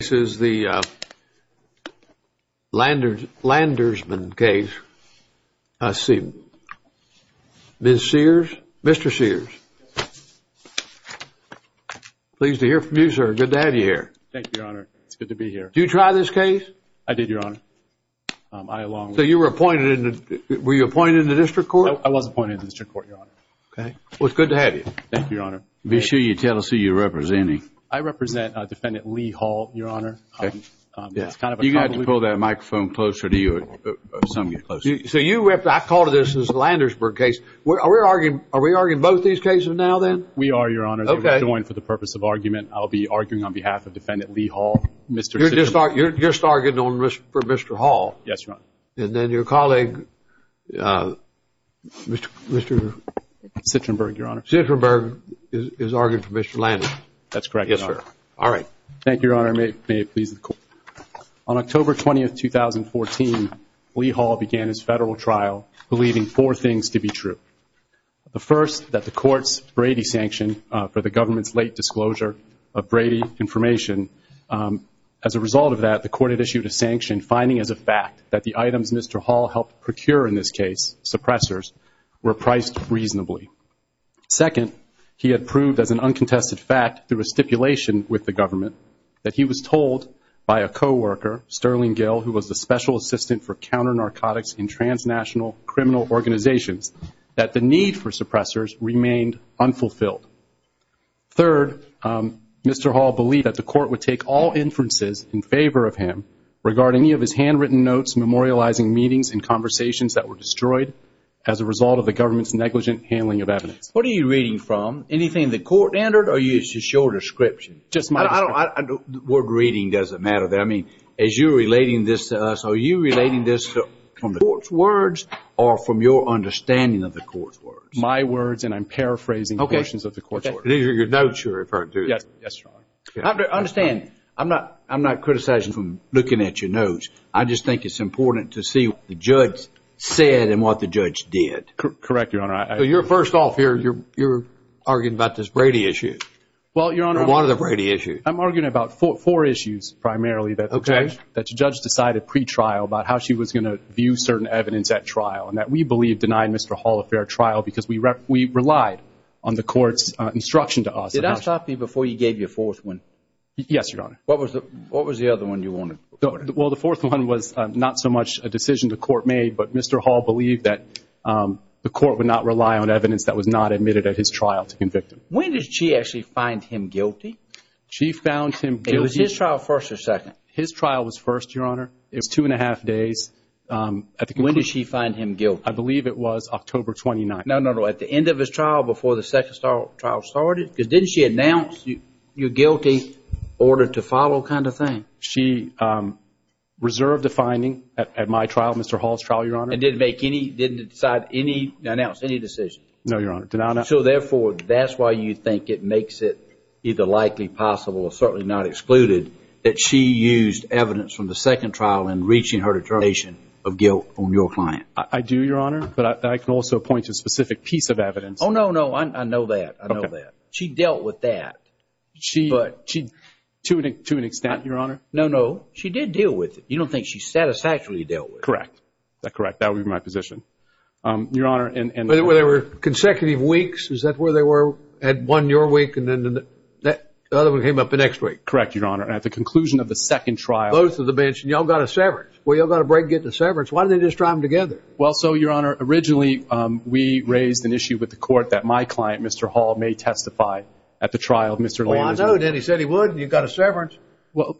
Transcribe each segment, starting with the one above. This is the Landersman case. Let's see. Mr. Sears. Pleased to hear from you, sir. Good to have you here. Thank you, Your Honor. It's good to be here. Did you try this case? I did, Your Honor. So you were appointed in the... Were you appointed in the district court? I was appointed in the district court, Your Honor. Well, it's good to have you. Thank you, Your Honor. Be sure you tell us who you're representing. I represent Defendant Lee Hall, Your Honor. Okay. It's kind of a... You got to pull that microphone closer to you. So you... I call this the Landersburg case. Are we arguing both these cases now, then? We are, Your Honor. Okay. They were joined for the purpose of argument. I'll be arguing on behalf of Defendant Lee Hall. You're just arguing for Mr. Hall? Yes, Your Honor. And then your colleague, Mr.... Citrenberg, Your Honor. Citrenberg is arguing for Mr. Landers. That's correct, Your Honor. Yes, sir. All right. Thank you, Your Honor. May it please the Court. On October 20, 2014, Lee Hall began his federal trial believing four things to be true. The first, that the court's Brady sanction for the government's late disclosure of Brady information. As a result of that, the court had issued a sanction finding as a fact that the items Mr. Hall helped procure in this case, suppressors, were priced reasonably. Second, he had proved as an uncontested fact, through a stipulation with the government, that he was told by a co-worker, Sterling Gill, who was a special assistant for counter-narcotics in transnational criminal organizations, that the need for suppressors remained unfulfilled. Third, Mr. Hall believed that the court would take all inferences in favor of him regarding any of his handwritten notes memorializing meetings and conversations that were destroyed as a result of the government's negligent handling of evidence. What are you reading from? Anything the court entered or just your description? Just my description. Word reading doesn't matter there. I mean, as you're relating this to us, are you relating this from the court's words or from your understanding of the court's words? My words and I'm paraphrasing portions of the court's words. These are your notes you're referring to? Yes, Your Honor. Understand, I'm not criticizing from looking at your notes. I just think it's important to see what the judge said and what the judge did. Correct, Your Honor. So you're first off here, you're arguing about this Brady issue. Well, Your Honor. Or one of the Brady issues. I'm arguing about four issues primarily that the judge decided pre-trial about how she was going to view certain evidence at trial and that we believe denied Mr. Hall a fair trial because we relied on the court's instruction to us. Did I stop you before you gave your fourth one? Yes, Your Honor. What was the other one you wanted? Well, the fourth one was not so much a decision the court made, but Mr. Hall believed that the court would not rely on evidence that was not admitted at his trial to convict him. When did she actually find him guilty? She found him guilty. Was his trial first or second? His trial was first, Your Honor. It was two and a half days. When did she find him guilty? I believe it was October 29th. No, no, no. At the end of his trial before the second trial started? Because didn't she announce your guilty order to follow kind of thing? No, Your Honor. She reserved a finding at my trial, Mr. Hall's trial, Your Honor. And didn't make any, didn't announce any decision? No, Your Honor. So, therefore, that's why you think it makes it either likely possible or certainly not excluded that she used evidence from the second trial in reaching her determination of guilt on your client? I do, Your Honor, but I can also point to a specific piece of evidence. Oh, no, no. I know that. I know that. She dealt with that. To an extent, Your Honor? No, no. She did deal with it. You don't think she satisfactorily dealt with it? Correct. Correct. That would be my position. Your Honor. Were there consecutive weeks? Is that where they were at one your week and then the other one came up the next week? Correct, Your Honor. At the conclusion of the second trial. Both of the bench. And y'all got a severance. Well, y'all got a break getting a severance. Why didn't they just try them together? Well, so, Your Honor, originally we raised an issue with the court that my client, Mr. Hall, may testify at the trial of Mr. Landers. Well, I know that. He said he would. You got a severance.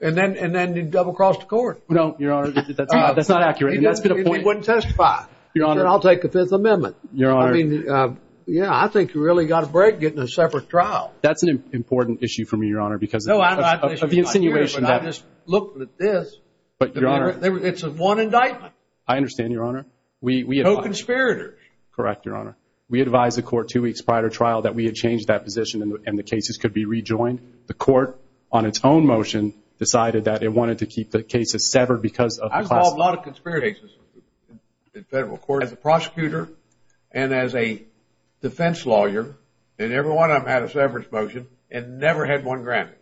And then he double-crossed the court. No, Your Honor. That's not accurate. He wouldn't testify. Your Honor. Then I'll take a Fifth Amendment. Your Honor. I mean, yeah, I think you really got a break getting a severance trial. That's an important issue for me, Your Honor, because of the insinuation that... No, I'm not. I just looked at this. But, Your Honor... It's one indictment. I understand, Your Honor. We... Co-conspirators. Correct, Your Honor. We advised the court two weeks prior to trial that we had changed that position and the cases could be rejoined. The court, on its own motion, decided that it wanted to keep the cases severed because of the class... I've solved a lot of conspiracies in federal court as a prosecutor and as a defense lawyer. And every one of them had a severance motion and never had one granted.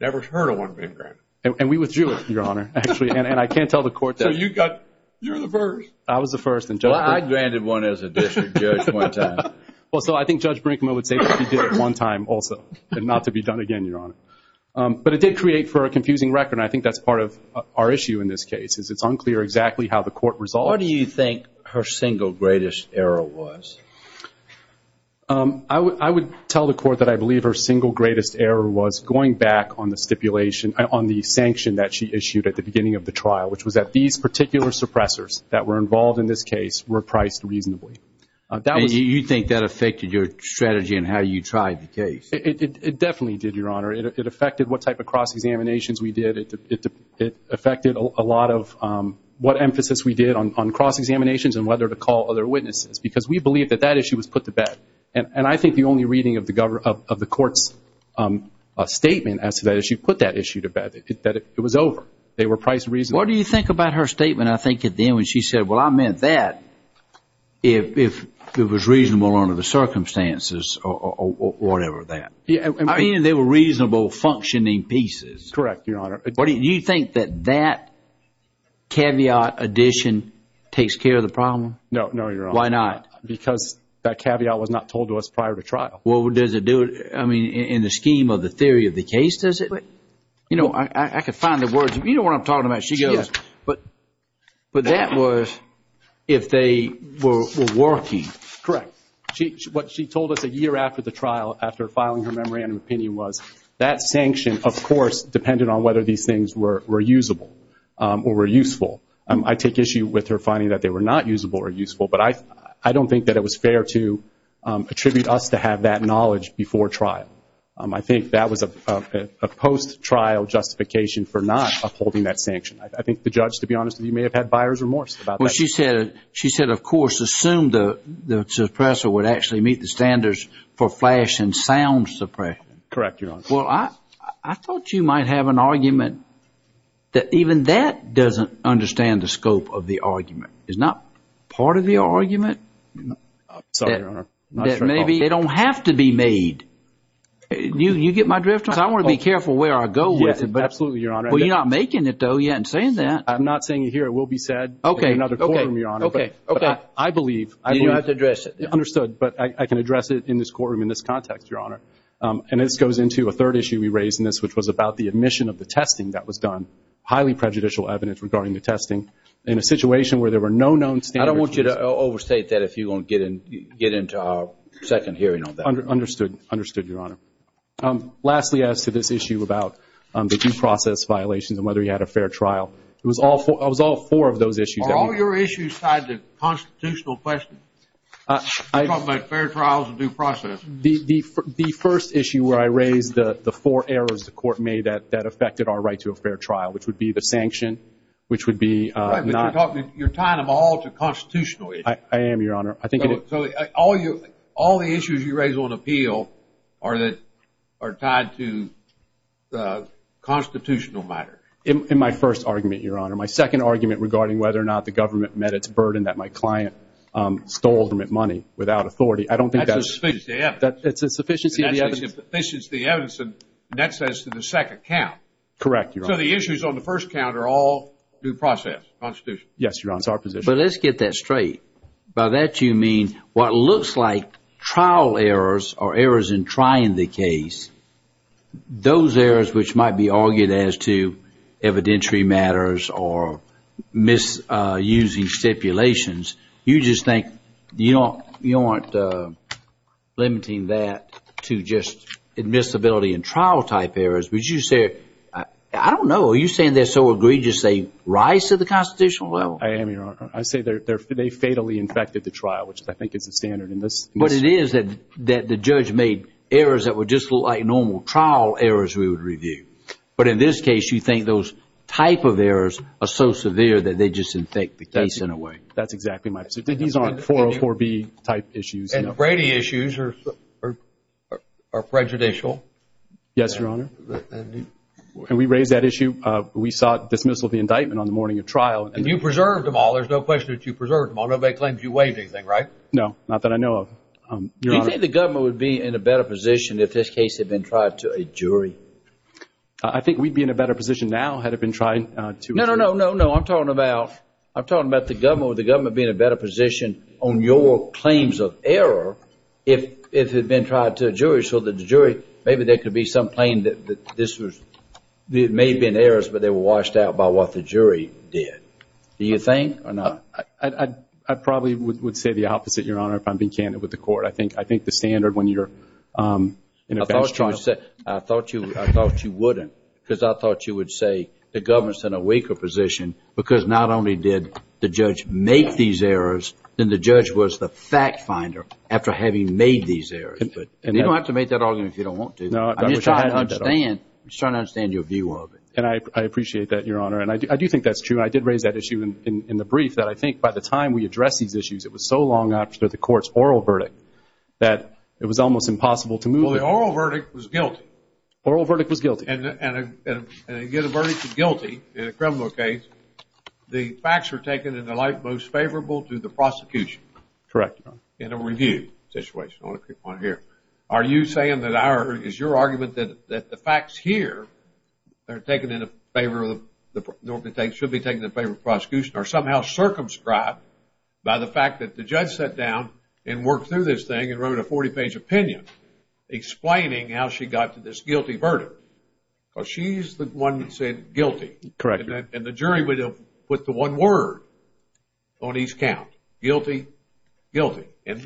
Never heard of one being granted. And we withdrew it, Your Honor, actually. And I can't tell the court that... So you got... You're the first. I was the first. Well, I granted one as a district judge one time. Well, so I think Judge Brinkman would say that he did it one time also and not to be done again, Your Honor. But it did create for a confusing record and I think that's part of our issue in this case is it's unclear exactly how the court resolved... What do you think her single greatest error was? I would tell the court that I believe her single greatest error was going back on the stipulation, on the sanction that she issued at the beginning of the trial, which was that these particular suppressors that were involved in this case were priced reasonably. And you think that affected your strategy and how you tried the case? It definitely did, Your Honor. It affected what type of cross-examinations we did. It affected a lot of what emphasis we did on cross-examinations and whether to call other witnesses because we believe that that issue was put to bed. And I think the only reading of the court's statement as to that issue put that issue to bed, that it was over. They were priced reasonably. What do you think about her statement, I think, at the end when she said, well, I meant that if it was reasonable under the circumstances or whatever that. I mean, they were reasonable functioning pieces. Correct, Your Honor. Do you think that that caveat addition takes care of the problem? No, Your Honor. Why not? Because that caveat was not told to us prior to trial. Well, does it do it? I mean, in the scheme of the theory of the case, does it? You know, I could find the words. You know what I'm talking about. She goes, but that was if they were working. Correct. What she told us a year after the trial, after filing her memorandum of opinion, was that sanction, of course, depended on whether these things were usable or were useful. I take issue with her finding that they were not usable or useful, but I don't think that it was fair to attribute us to have that knowledge before trial. I think that was a post-trial justification for not upholding that sanction. I think the judge, to be honest with you, may have had buyer's remorse about that. Well, she said, of course, assume the suppressor would actually meet the standards for flash and sound suppression. Correct, Your Honor. Well, I thought you might have an argument that even that doesn't understand the scope of the argument. Sorry, Your Honor. That maybe they don't have to be made. You get my drift? Because I want to be careful where I go with it. Absolutely, Your Honor. But you're not making it, though. You're not saying that. I'm not saying it here. It will be said in another courtroom, Your Honor. Okay, okay. I believe. You don't have to address it. Understood, but I can address it in this courtroom, in this context, Your Honor. And this goes into a third issue we raised in this, which was about the admission of the testing that was done, highly prejudicial evidence regarding the testing in a situation where there were no known standards. I don't want you to overstate that if you're going to get into our second hearing on that. Understood, Your Honor. Lastly, as to this issue about the due process violations and whether you had a fair trial, it was all four of those issues that we raised. Are all your issues tied to constitutional questions? You're talking about fair trials and due process. The first issue where I raised the four errors the Court made that affected our right to a fair trial, which would be the sanction, which would be not. You're tying them all to constitutional issues. I am, Your Honor. So all the issues you raise on appeal are tied to the constitutional matter. In my first argument, Your Honor. My second argument regarding whether or not the government met its burden that my client stole money without authority, I don't think that's. That's a sufficiency of evidence. It's a sufficiency of evidence. It's a sufficiency of evidence and that's as to the second count. Correct, Your Honor. So the issues on the first count are all due process, constitutional? Yes, Your Honor. It's our position. But let's get that straight. By that you mean what looks like trial errors or errors in trying the case, those errors which might be argued as to evidentiary matters or misusing stipulations, you just think you aren't limiting that to just admissibility and trial type errors. Would you say, I don't know, are you saying they're so egregious they rise to the constitutional level? I am, Your Honor. I say they fatally infected the trial, which I think is the standard in this. But it is that the judge made errors that were just like normal trial errors we would review. But in this case, you think those type of errors are so severe that they just infect the case in a way. That's exactly my position. These aren't 404B type issues. And Brady issues are prejudicial. Yes, Your Honor. And we raised that issue. We sought dismissal of the indictment on the morning of trial. And you preserved them all. There's no question that you preserved them all. Nobody claims you waived anything, right? No, not that I know of, Your Honor. Do you think the government would be in a better position if this case had been tried to a jury? I think we'd be in a better position now had it been tried to a jury. No, no, no, no, no. I'm talking about the government. Maybe there could be some claim that this may have been errors, but they were washed out by what the jury did. Do you think or not? I probably would say the opposite, Your Honor, if I'm being candid with the court. I think the standard when you're in a best trial. I thought you wouldn't because I thought you would say the government's in a weaker position because not only did the judge make these errors, then the judge was the fact finder after having made these errors. You don't have to make that argument if you don't want to. I'm just trying to understand your view of it. And I appreciate that, Your Honor. And I do think that's true. I did raise that issue in the brief that I think by the time we addressed these issues, it was so long after the court's oral verdict that it was almost impossible to move on. Well, the oral verdict was guilty. The oral verdict was guilty. And you get a verdict of guilty in a criminal case, the facts were taken in the light most favorable to the prosecution. Correct, Your Honor. In a review situation. I want to pick one here. Are you saying that our – is your argument that the facts here are taken in favor of – should be taken in favor of the prosecution or somehow circumscribed by the fact that the judge sat down and worked through this thing and wrote a 40-page opinion explaining how she got to this guilty verdict? Because she's the one that said guilty. Correct. And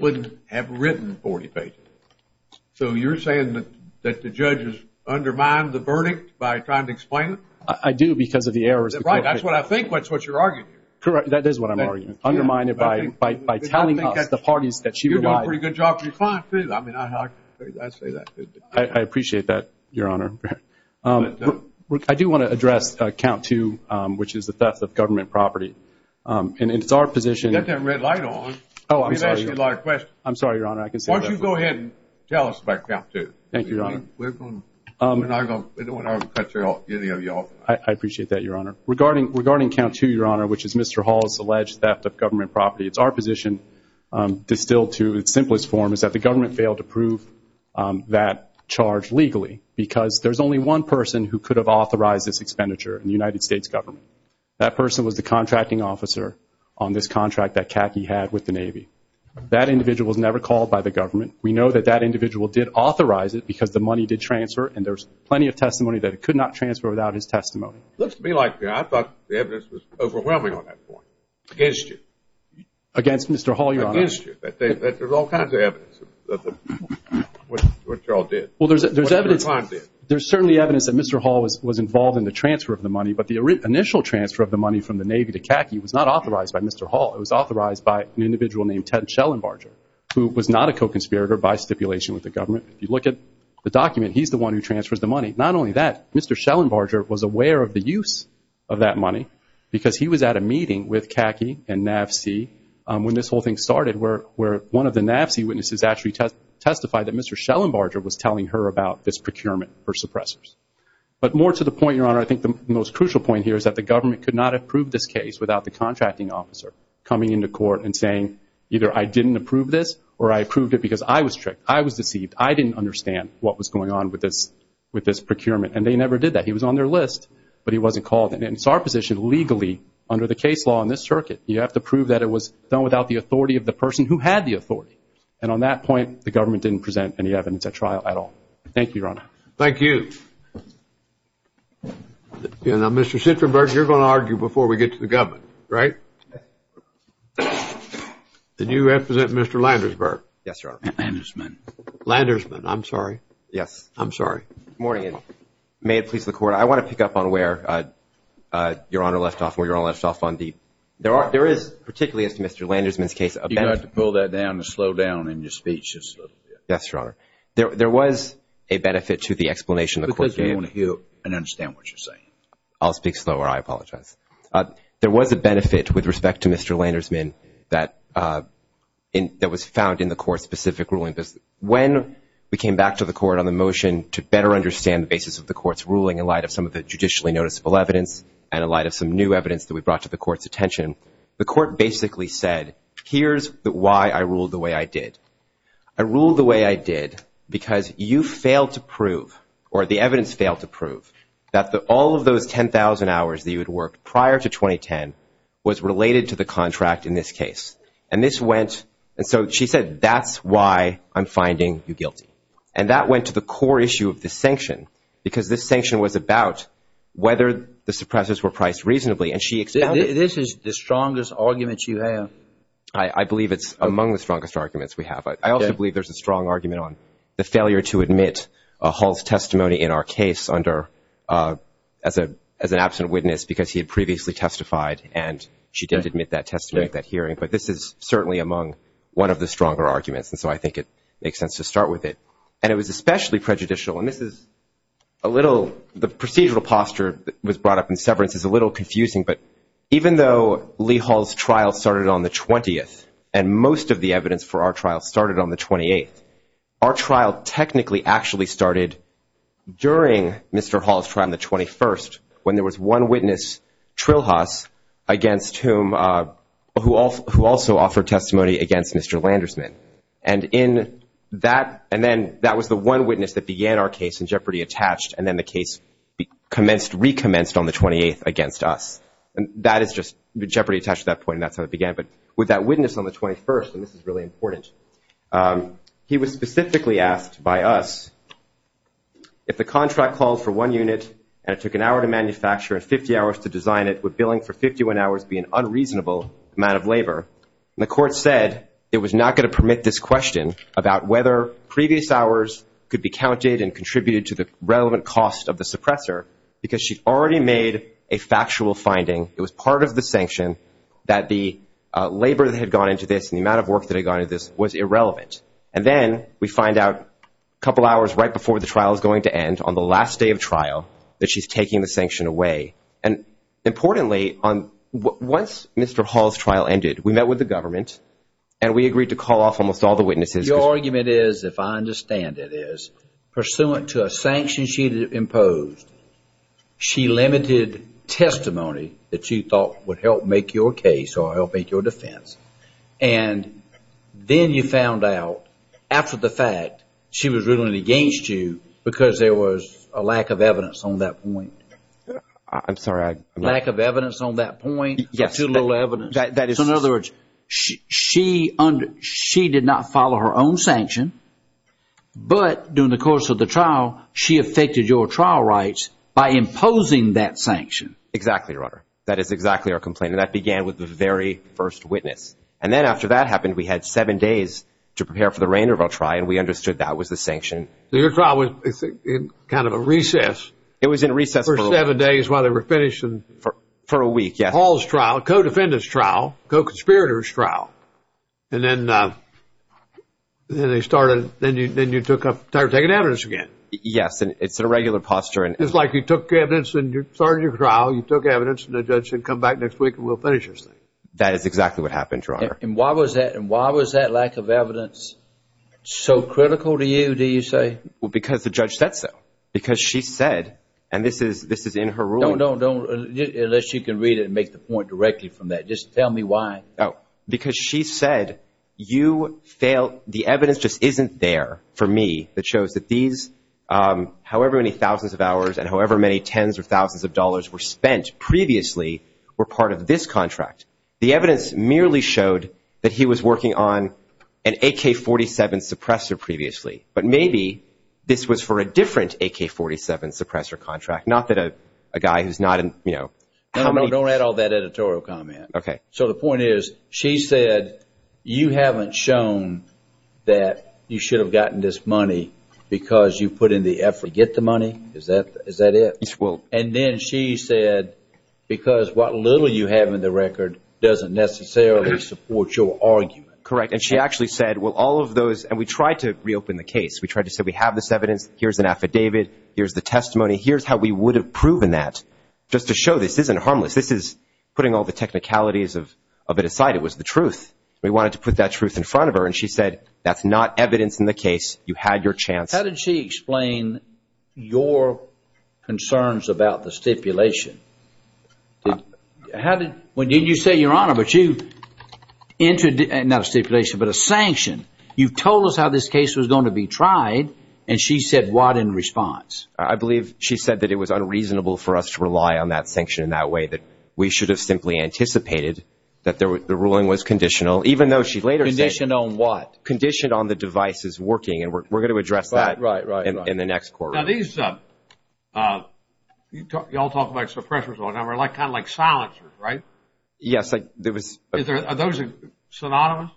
wouldn't have written 40 pages. So you're saying that the judge has undermined the verdict by trying to explain it? I do because of the errors. Right. That's what I think. That's what you're arguing. Correct. That is what I'm arguing. Undermined by telling us the parties that she relied – You're doing a pretty good job of your client, too. I mean, I say that. I appreciate that, Your Honor. I do want to address count two, which is the theft of government property. And it's our position – You've got that red light on. I'm sorry, Your Honor. Why don't you go ahead and tell us about count two? Thank you, Your Honor. We're not going to cut you off. I appreciate that, Your Honor. Regarding count two, Your Honor, which is Mr. Hall's alleged theft of government property, it's our position, distilled to its simplest form, is that the government failed to prove that charge legally because there's only one person who could have authorized this expenditure, the United States government. That person was the contracting officer on this contract that CACI had with the Navy. That individual was never called by the government. We know that that individual did authorize it because the money did transfer, and there's plenty of testimony that it could not transfer without his testimony. It looks to me like the evidence was overwhelming on that point, against you. Against Mr. Hall, Your Honor. Against you. There's all kinds of evidence of what you all did. Well, there's evidence. There's certainly evidence that Mr. Hall was involved in the transfer of the money, but the initial transfer of the money from the Navy to CACI was not authorized by Mr. Hall. It was authorized by an individual named Ted Schellenbarger, who was not a co-conspirator by stipulation with the government. If you look at the document, he's the one who transfers the money. Not only that, Mr. Schellenbarger was aware of the use of that money because he was at a meeting with CACI and NAVSEA when this whole thing started, where one of the NAVSEA witnesses actually testified that Mr. Schellenbarger was telling her about this procurement for suppressors. But more to the point, Your Honor, I think the most crucial point here is that the government could not have proved this case without the contracting officer coming into court and saying, either I didn't approve this or I approved it because I was tricked, I was deceived, I didn't understand what was going on with this procurement. And they never did that. He was on their list, but he wasn't called. And it's our position, legally, under the case law in this circuit, you have to prove that it was done without the authority of the person who had the authority. And on that point, the government didn't present any evidence at trial at all. Thank you, Your Honor. Thank you. Now, Mr. Schellenbarger, you're going to argue before we get to the government, right? Did you represent Mr. Landersburg? Yes, Your Honor. Landersman. Landersman, I'm sorry. Yes, I'm sorry. Good morning. May it please the Court, I want to pick up on where Your Honor left off, where Your Honor left off on the – there is, particularly as to Mr. Landersman's case, You've got to pull that down to slow down in your speech just a little bit. Yes, Your Honor. There was a benefit to the explanation the Court gave. Because we want to hear and understand what you're saying. I'll speak slower. I apologize. There was a benefit with respect to Mr. Landersman that was found in the Court-specific ruling. When we came back to the Court on the motion to better understand the basis of the Court's ruling in light of some of the judicially noticeable evidence and in light of some new evidence that we brought to the Court's attention, the Court basically said, here's why I ruled the way I did. I ruled the way I did because you failed to prove, or the evidence failed to prove, that all of those 10,000 hours that you had worked prior to 2010 was related to the contract in this case. And this went – and so she said, that's why I'm finding you guilty. And that went to the core issue of the sanction, because this sanction was about whether the suppressors were priced reasonably. And she – This is the strongest argument you have. I believe it's among the strongest arguments we have. I also believe there's a strong argument on the failure to admit Hull's testimony in our case under – as an absent witness because he had previously testified, and she didn't admit that testimony at that hearing. But this is certainly among one of the stronger arguments, and so I think it makes sense to start with it. And it was especially prejudicial, and this is a little – the procedural posture that was brought up in severance is a little confusing, but even though Lee Hull's trial started on the 20th and most of the evidence for our trial started on the 28th, our trial technically actually started during Mr. Hull's trial on the 21st when there was one witness, Trilhas, against whom – who also offered testimony against Mr. Landersman. And in that – and then that was the one witness that began our case in Jeopardy! Attached and then the case commenced – recommenced on the 28th against us. And that is just Jeopardy! Attached at that point, and that's how it began. But with that witness on the 21st, and this is really important, he was specifically asked by us if the contract calls for one unit and it took an hour to manufacture and 50 hours to design it, would billing for 51 hours be an unreasonable amount of labor? And the court said it was not going to permit this question about whether previous hours could be counted and contributed to the relevant cost of the suppressor because she'd already made a factual finding. It was part of the sanction that the labor that had gone into this and the amount of work that had gone into this was irrelevant. And then we find out a couple hours right before the trial is going to end, on the last day of trial, that she's taking the sanction away. And importantly, once Mr. Hull's trial ended, we met with the government and we agreed to call off almost all the witnesses. Your argument is, if I understand it, is pursuant to a sanction she'd imposed, she limited testimony that you thought would help make your case or help make your defense. And then you found out, after the fact, she was ruling against you because there was a lack of evidence on that point. I'm sorry. Lack of evidence on that point, too little evidence. So in other words, she did not follow her own sanction, but during the course of the trial, she affected your trial rights by imposing that sanction. Exactly, Your Honor. That is exactly our complaint. And that began with the very first witness. And then after that happened, we had seven days to prepare for the reign of our trial, and we understood that was the sanction. So your trial was in kind of a recess. It was in recess for a while. For seven days while they were finishing. For a week, yes. Paul's trial, co-defendant's trial, co-conspirator's trial. And then they started, then you took up, started taking evidence again. Yes, and it's a regular posture. It's like you took evidence and you started your trial, you took evidence and the judge said, come back next week and we'll finish this thing. That is exactly what happened, Your Honor. And why was that lack of evidence so critical to you, do you say? Well, because the judge said so. Because she said, and this is in her ruling. No, no, no, unless you can read it and make the point directly from that. Just tell me why. Because she said you failed, the evidence just isn't there for me that shows that these, however many thousands of hours and however many tens of thousands of dollars were spent previously were part of this contract. The evidence merely showed that he was working on an AK-47 suppressor previously. But maybe this was for a different AK-47 suppressor contract, not that a guy who's not in, you know. Don't add all that editorial comment. Okay. So the point is, she said you haven't shown that you should have gotten this money because you put in the effort to get the money? Is that it? And then she said because what little you have in the record doesn't necessarily support your argument. Correct, and she actually said, well, all of those, and we tried to reopen the case. We tried to say we have this evidence, here's an affidavit, here's the testimony, here's how we would have proven that just to show this isn't harmless. This is putting all the technicalities of it aside. It was the truth. We wanted to put that truth in front of her, and she said that's not evidence in the case. You had your chance. How did she explain your concerns about the stipulation? How did, when you say, Your Honor, but you, not a stipulation, but a sanction, you told us how this case was going to be tried, and she said what in response? I believe she said that it was unreasonable for us to rely on that sanction in that way, that we should have simply anticipated that the ruling was conditional, even though she later said. Conditioned on what? Conditioned on the devices working, and we're going to address that in the next courtroom. Right, right, right. Now, these, you all talk about suppressors all the time. They're kind of like silencers, right? Yes, there was. Are those synonymous?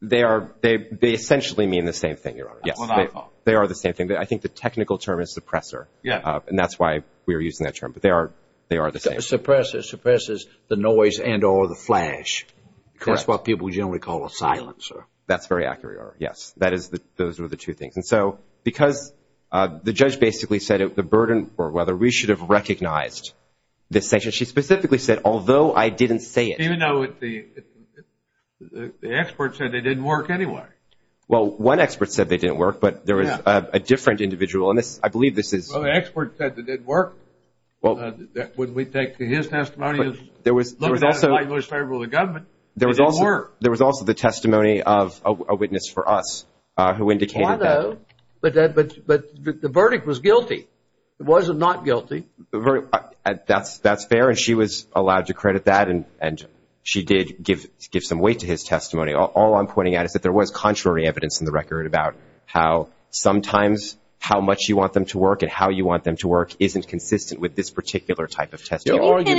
They are, they essentially mean the same thing, Your Honor. That's what I thought. No, they are the same thing. I think the technical term is suppressor, and that's why we're using that term. But they are the same thing. A suppressor suppresses the noise and or the flash. Correct. That's what people generally call a silencer. That's very accurate, Your Honor. Yes, that is, those are the two things. And so because the judge basically said the burden or whether we should have recognized this sanction, she specifically said, although I didn't say it. Even though the expert said they didn't work anyway. Well, one expert said they didn't work, but there was a different individual. I believe this is. Well, the expert said it didn't work. Would we take his testimony? There was also. It was in favor of the government. It didn't work. There was also the testimony of a witness for us who indicated that. But the verdict was guilty. It was not guilty. All I'm pointing out is that there was contrary evidence in the record about how sometimes how much you want them to work and how you want them to work isn't consistent with this particular type of testimony. Can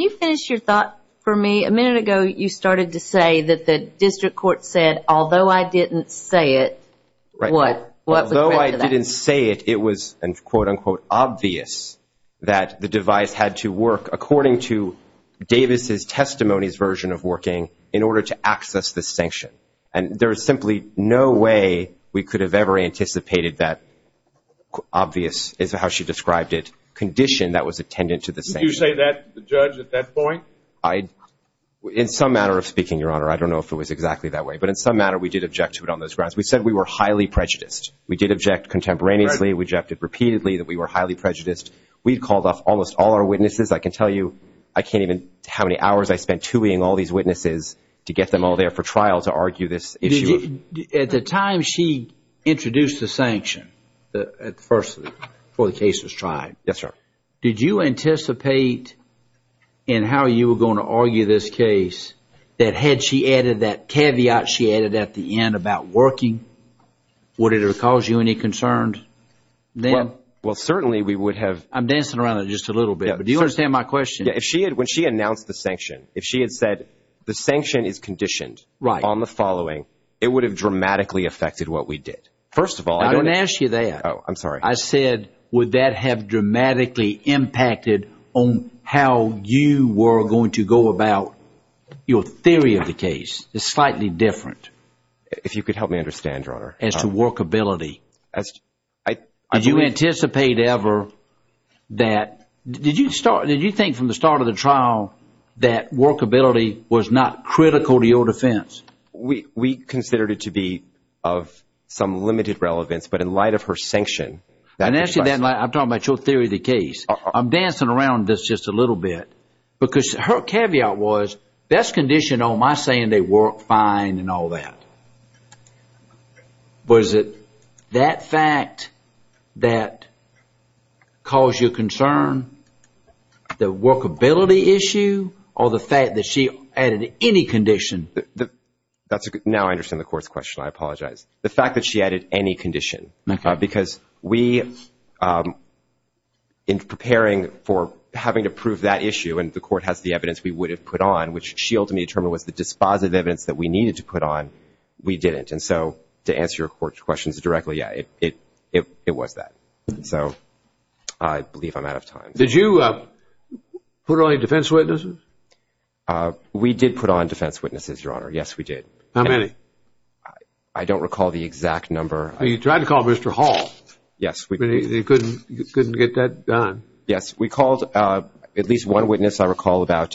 you finish your thought for me? A minute ago you started to say that the district court said, although I didn't say it. Although I didn't say it, it was, quote, unquote, obvious that the device had to work according to Davis' testimony's version of working in order to access the sanction. And there is simply no way we could have ever anticipated that obvious, is how she described it, condition that was attendant to the sanction. Did you say that to the judge at that point? In some manner of speaking, Your Honor, I don't know if it was exactly that way, but in some manner we did object to it on those grounds. We said we were highly prejudiced. We did object contemporaneously. We objected repeatedly that we were highly prejudiced. We called off almost all our witnesses. I can tell you I can't even how many hours I spent tuning all these witnesses to get them all there for trial to argue this issue. At the time she introduced the sanction, at first, before the case was tried. Yes, sir. Did you anticipate in how you were going to argue this case that had she added that caveat she added at the end about working, would it have caused you any concern then? Well, certainly we would have. I'm dancing around it just a little bit, but do you understand my question? When she announced the sanction, if she had said the sanction is conditioned on the following, it would have dramatically affected what we did. First of all, I don't know. I don't ask you that. Oh, I'm sorry. I said would that have dramatically impacted on how you were going to go about your theory of the case. It's slightly different. If you could help me understand, Your Honor. As to workability. Did you anticipate ever that, did you think from the start of the trial that workability was not critical to your defense? We considered it to be of some limited relevance, but in light of her sanction. I'm dancing around this just a little bit, because her caveat was that's conditioned on my saying they work fine and all that. Was it that fact that caused you concern, the workability issue, or the fact that she added any condition? Now I understand the court's question. I apologize. The fact that she added any condition. Because we, in preparing for having to prove that issue, and the court has the evidence we would have put on, which she ultimately determined was the dispositive evidence that we needed to put on, we didn't. And so to answer your court's questions directly, yeah, it was that. So I believe I'm out of time. Did you put on any defense witnesses? We did put on defense witnesses, Your Honor. Yes, we did. How many? I don't recall the exact number. You tried to call Mr. Hall. Yes. But you couldn't get that done? Yes. We called at least one witness, I recall, about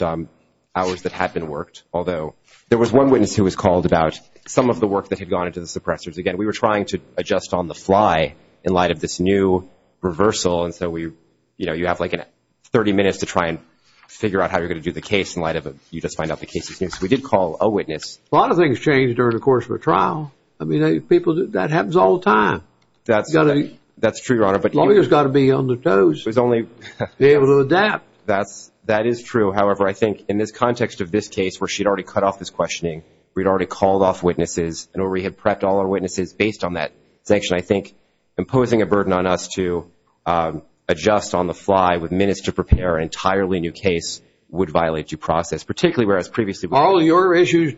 hours that had been worked, although there was one witness who was called about some of the work that had gone into the suppressors. Again, we were trying to adjust on the fly in light of this new reversal, and so you have like 30 minutes to try and figure out how you're going to do the case in light of you just find out the case is new. So we did call a witness. A lot of things change during the course of a trial. I mean, that happens all the time. That's true, Your Honor. Lawyers have got to be on their toes to be able to adapt. That is true. However, I think in this context of this case where she had already cut off this questioning, we had already called off witnesses, and we had prepped all our witnesses based on that sanction, I think imposing a burden on us to adjust on the fly with minutes to prepare an entirely new case would violate due process, particularly whereas previously we did. Are all your issues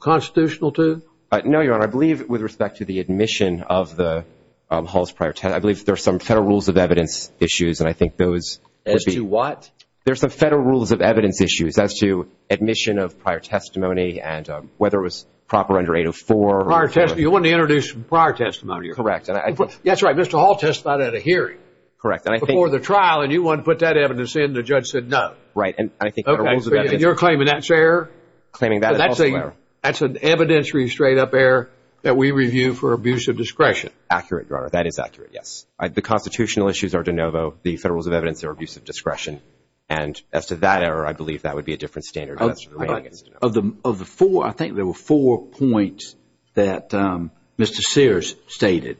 constitutional too? No, Your Honor. I believe with respect to the admission of the Hall's prior testimony, I believe there are some federal rules of evidence issues, and I think those would be. As to what? There are some federal rules of evidence issues as to admission of prior testimony and whether it was proper under 804. Prior testimony. You wanted to introduce prior testimony. Correct. That's right. Mr. Hall testified at a hearing. Correct. Before the trial, and you wanted to put that evidence in. The judge said no. Right. You're claiming that's error? Claiming that is also error. That's an evidentiary straight-up error that we review for abuse of discretion. Accurate, Your Honor. That is accurate, yes. The constitutional issues are de novo. The federal rules of evidence are abuse of discretion. And as to that error, I believe that would be a different standard. Of the four, I think there were four points that Mr. Sears stated.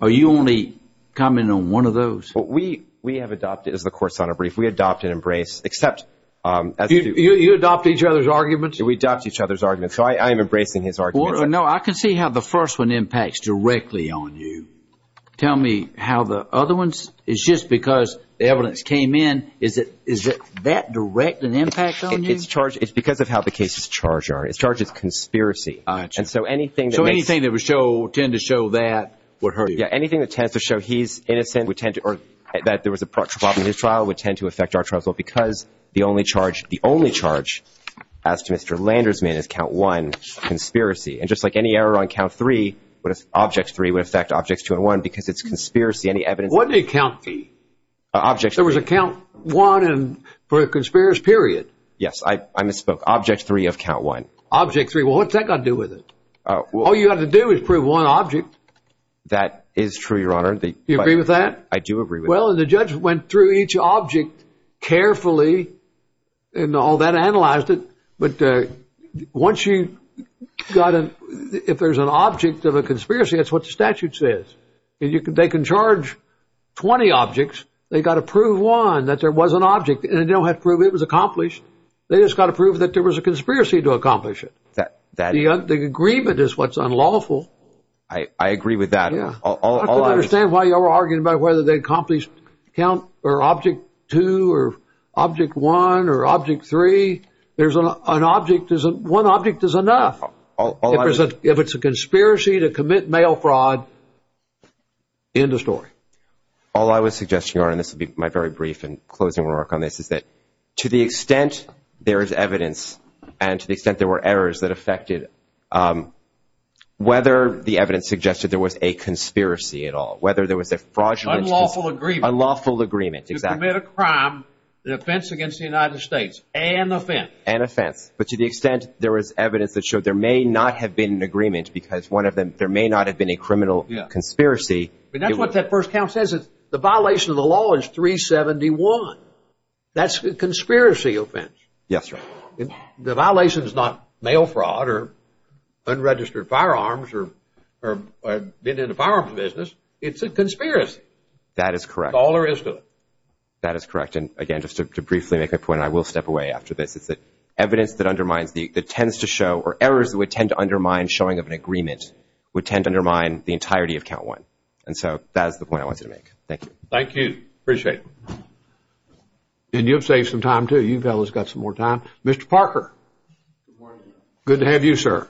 Are you only commenting on one of those? What we have adopted is the court's honor brief. We adopt and embrace. You adopt each other's arguments? We adopt each other's arguments. So I am embracing his arguments. No, I can see how the first one impacts directly on you. Tell me how the other ones. It's just because the evidence came in. Is that direct an impact on you? It's because of how the cases charged are. It's charged as conspiracy. So anything that would tend to show that would hurt you. Yeah, anything that tends to show he's innocent or that there was a problem in his trial would tend to affect our trial. Because the only charge, the only charge, as to Mr. Landersman is count one, conspiracy. And just like any error on count three, object three would affect objects two and one because it's conspiracy. Any evidence? What did he count? Objects. There was a count one for a conspiracy, period. Yes, I misspoke. Object three of count one. Object three. Well, what's that got to do with it? All you have to do is prove one object. That is true, Your Honor. Do you agree with that? I do agree with that. Well, and the judge went through each object carefully and all that, analyzed it. But once you got an, if there's an object of a conspiracy, that's what the statute says. They can charge 20 objects. They got to prove one, that there was an object. And they don't have to prove it was accomplished. They just got to prove that there was a conspiracy to accomplish it. The agreement is what's unlawful. I agree with that. I don't understand why you're arguing about whether they accomplished count or object two or object one or object three. There's an object, one object is enough. If it's a conspiracy to commit mail fraud, end of story. All I was suggesting, Your Honor, and this will be my very brief and closing remark on this, is that to the extent there is evidence and to the extent there were errors that affected whether the evidence suggested there was a conspiracy at all, whether there was a fraudulent, unlawful agreement. To commit a crime, an offense against the United States, an offense. An offense. But to the extent there was evidence that showed there may not have been an agreement because one of them, there may not have been a criminal conspiracy. But that's what that first count says. The violation of the law is 371. That's a conspiracy offense. Yes, Your Honor. The violation is not mail fraud or unregistered firearms or being in the firearms business. It's a conspiracy. That is correct. That's all there is to it. That is correct. And, again, just to briefly make a point, and I will step away after this, is that evidence that undermines, that tends to show, or errors that would tend to undermine showing of an agreement would tend to undermine the entirety of count one. And so that is the point I wanted to make. Thank you. Thank you. Appreciate it. And you have saved some time, too. You fellows have got some more time. Mr. Parker. Good morning. Good to have you, sir.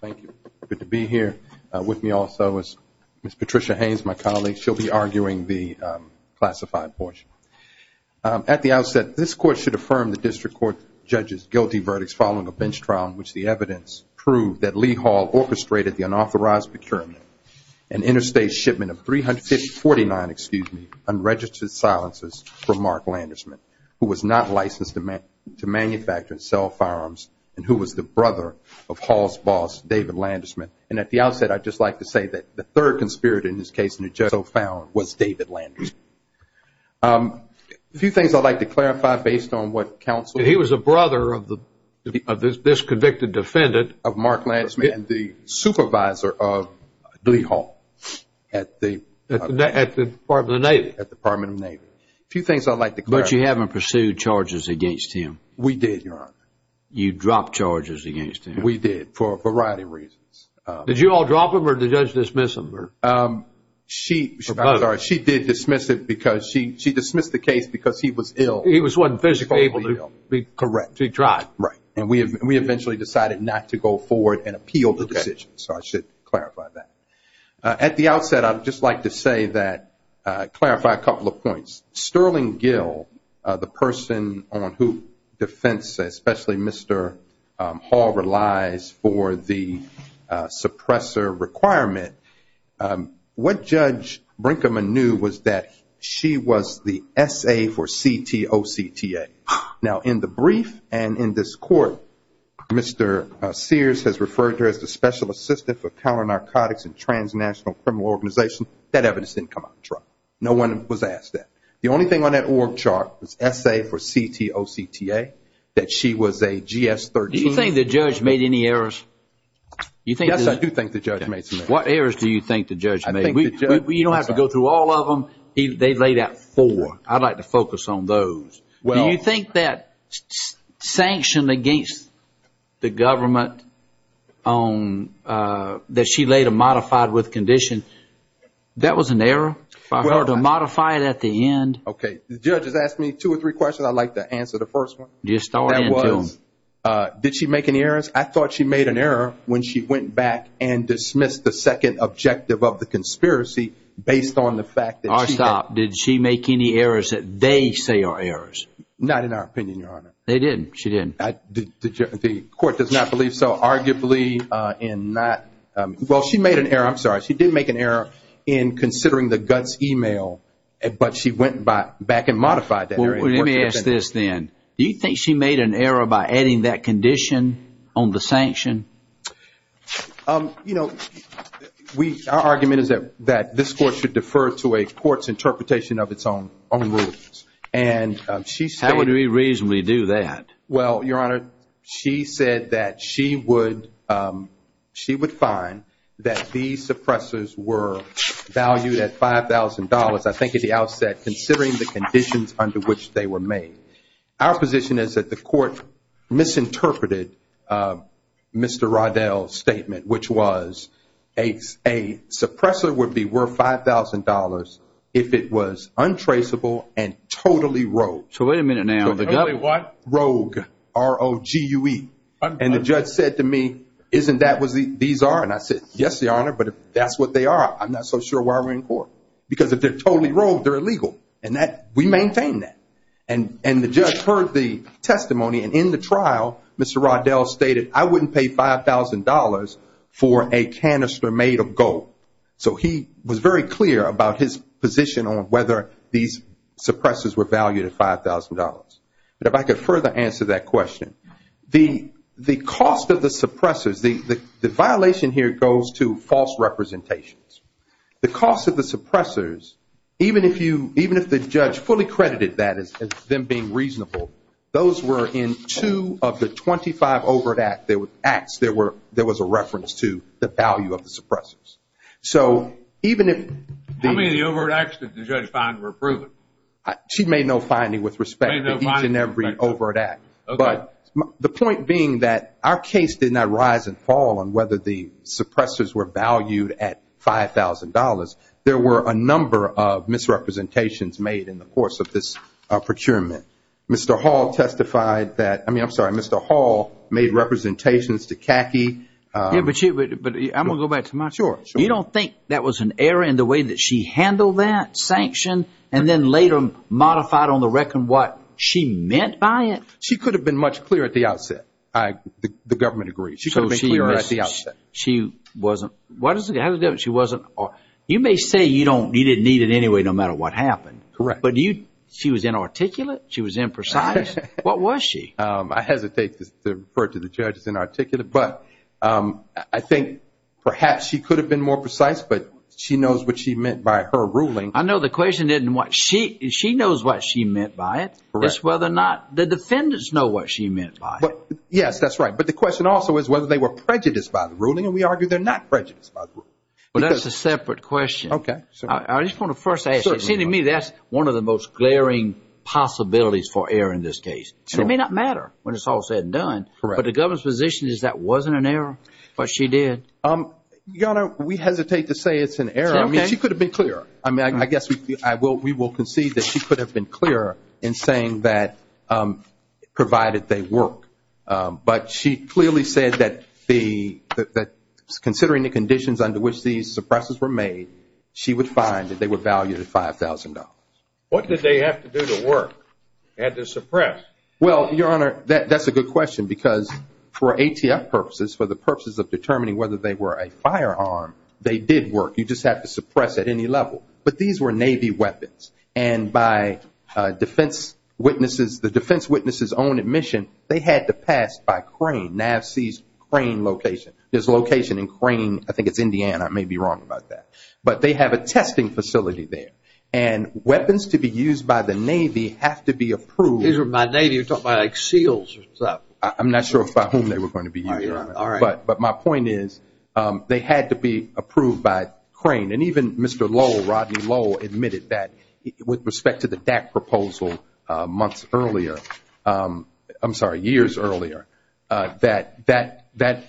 Thank you. Good to be here. With me also is Ms. Patricia Haynes, my colleague. She'll be arguing the classified portion. At the outset, this Court should affirm the District Court judge's guilty verdicts following a bench trial in which the evidence proved that Lee Hall orchestrated the unauthorized procurement, an interstate shipment of 349 unregistered silencers from Mark Landersman, who was not licensed to manufacture and sell firearms, and who was the brother of Hall's boss, David Landersman. And at the outset, I'd just like to say that the third conspirator in this case, and it just so found, was David Landersman. A few things I'd like to clarify based on what counsel said. He was a brother of this convicted defendant of Mark Landersman, the supervisor of Lee Hall. At the Department of the Navy. At the Department of the Navy. A few things I'd like to clarify. But you haven't pursued charges against him. We did, Your Honor. You dropped charges against him. We did, for a variety of reasons. Did you all drop them or did the judge dismiss them? She did dismiss it because she dismissed the case because he was ill. He wasn't physically able to be correct. He tried. Right. And we eventually decided not to go forward and appeal the decision. So I should clarify that. Sterling Gill, the person on who defense, especially Mr. Hall, relies for the suppressor requirement. What Judge Brinkman knew was that she was the S.A. for C.T.O.C.T.A. Now, in the brief and in this court, Mr. Sears has referred to her as the special assistant for counter-narcotics and transnational criminal organization. That evidence didn't come out of trial. No one was asked that. The only thing on that org chart was S.A. for C.T.O.C.T.A., that she was a GS-13. Do you think the judge made any errors? Yes, I do think the judge made some errors. What errors do you think the judge made? You don't have to go through all of them. They laid out four. I'd like to focus on those. Do you think that sanction against the government that she later modified with condition, that was an error for her to modify it at the end? Okay, the judge has asked me two or three questions. I'd like to answer the first one. Do you start? That was, did she make any errors? I thought she made an error when she went back and dismissed the second objective of the conspiracy based on the fact that she had- All right, stop. Did she make any errors that they say are errors? Not in our opinion, Your Honor. They didn't? The court does not believe so, arguably in that. Well, she made an error. I'm sorry. She did make an error in considering the guts email, but she went back and modified that. Let me ask this then. Do you think she made an error by adding that condition on the sanction? Our argument is that this court should defer to a court's interpretation of its own rules. How would we reasonably do that? Well, Your Honor, she said that she would find that these suppressors were valued at $5,000, I think at the outset, considering the conditions under which they were made. Our position is that the court misinterpreted Mr. Roddell's statement, which was a suppressor would be worth $5,000 if it was untraceable and totally rogue. So wait a minute now. Totally what? Rogue, R-O-G-U-E. And the judge said to me, isn't that what these are? And I said, yes, Your Honor, but if that's what they are, I'm not so sure why we're in court. Because if they're totally rogue, they're illegal. And we maintain that. And the judge heard the testimony, and in the trial, Mr. Roddell stated, I wouldn't pay $5,000 for a canister made of gold. So he was very clear about his position on whether these suppressors were valued at $5,000. But if I could further answer that question, the cost of the suppressors, the violation here goes to false representations. The cost of the suppressors, even if the judge fully credited that as them being reasonable, those were in two of the 25 overt acts there was a reference to the value of the suppressors. So even if the – How many of the overt acts did the judge find were proven? She made no finding with respect to each and every overt act. But the point being that our case did not rise and fall on whether the suppressors were valued at $5,000. There were a number of misrepresentations made in the course of this procurement. Mr. Hall testified that – I mean, I'm sorry, Mr. Hall made representations to Kaki. Yeah, but I'm going to go back to my – Sure, sure. You don't think that was an error in the way that she handled that sanction and then later modified on the record what she meant by it? She could have been much clearer at the outset. The government agrees. So she wasn't – why does it have a difference? She wasn't – you may say you didn't need it anyway no matter what happened. Correct. But she was inarticulate? She was imprecise? What was she? I hesitate to refer to the judge as inarticulate. But I think perhaps she could have been more precise, but she knows what she meant by her ruling. I know the question isn't what she – she knows what she meant by it. It's whether or not the defendants know what she meant by it. Yes, that's right. But the question also is whether they were prejudiced by the ruling, and we argue they're not prejudiced by the ruling. Well, that's a separate question. Okay. I just want to first ask. It seems to me that's one of the most glaring possibilities for error in this case. It may not matter when it's all said and done. Correct. But the government's position is that wasn't an error, but she did. Your Honor, we hesitate to say it's an error. I mean, she could have been clearer. I mean, I guess we will concede that she could have been clearer in saying that provided they work. But she clearly said that considering the conditions under which these suppresses were made, she would find that they were valued at $5,000. They had to suppress. Well, Your Honor, that's a good question because for ATF purposes, for the purposes of determining whether they were a firearm, they did work. You just have to suppress at any level. But these were Navy weapons, and by the defense witness's own admission, they had to pass by crane. NAVC's crane location. There's a location in crane. I think it's Indiana. I may be wrong about that. But they have a testing facility there, and weapons to be used by the Navy have to be approved. These were by Navy. You're talking about like SEALs or something. I'm not sure by whom they were going to be used. But my point is they had to be approved by crane. And even Mr. Lowell, Rodney Lowell, admitted that with respect to the DAC proposal months earlier, I'm sorry, years earlier, that that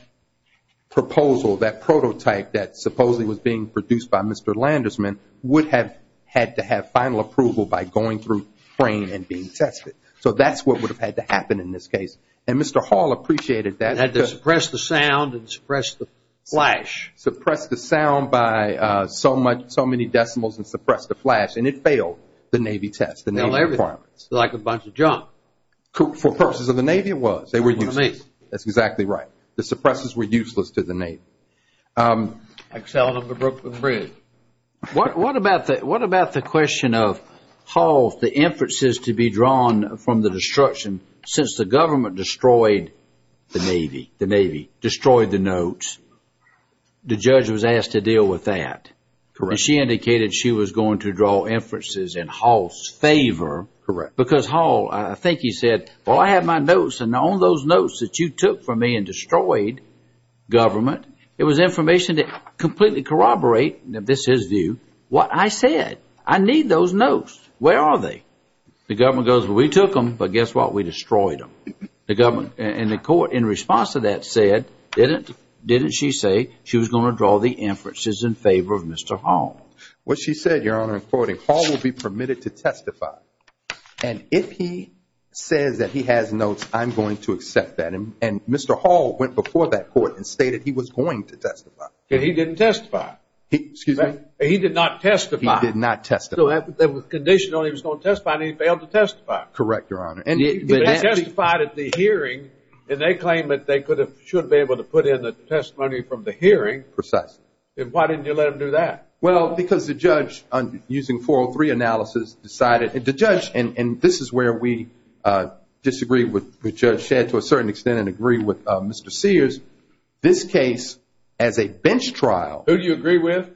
proposal, that prototype that supposedly was being produced by Mr. Landersman, would have had to have final approval by going through crane and being tested. So that's what would have had to happen in this case. And Mr. Hall appreciated that. He had to suppress the sound and suppress the flash. Suppress the sound by so many decimals and suppress the flash. And it failed the Navy test, the Navy requirements. Like a bunch of junk. For purposes of the Navy, it was. They were useless. That's exactly right. The suppressors were useless to the Navy. Excellent on the Brooklyn Bridge. What about the question of Hall's, the inferences to be drawn from the destruction, since the government destroyed the Navy, the Navy destroyed the notes, the judge was asked to deal with that. Correct. And she indicated she was going to draw inferences in Hall's favor. Correct. Because Hall, I think he said, Well, I have my notes, and on those notes that you took from me and destroyed government, it was information that completely corroborated, and this is his view, what I said. I need those notes. Where are they? The government goes, Well, we took them, but guess what? We destroyed them. And the court, in response to that, said, didn't she say she was going to draw the inferences in favor of Mr. Hall? What she said, Your Honor, in quoting, Hall will be permitted to testify. And if he says that he has notes, I'm going to accept that. And Mr. Hall went before that court and stated he was going to testify. And he didn't testify. Excuse me? He did not testify. He did not testify. So that was conditional. He was going to testify, and he failed to testify. Correct, Your Honor. And he testified at the hearing, and they claim that they should be able to put in the testimony from the hearing. Precisely. And why didn't you let him do that? Well, because the judge, using 403 analysis, decided, and the judge, and this is where we disagree with Judge Shedd to a certain extent and agree with Mr. Sears, this case, as a bench trial. Who do you agree with?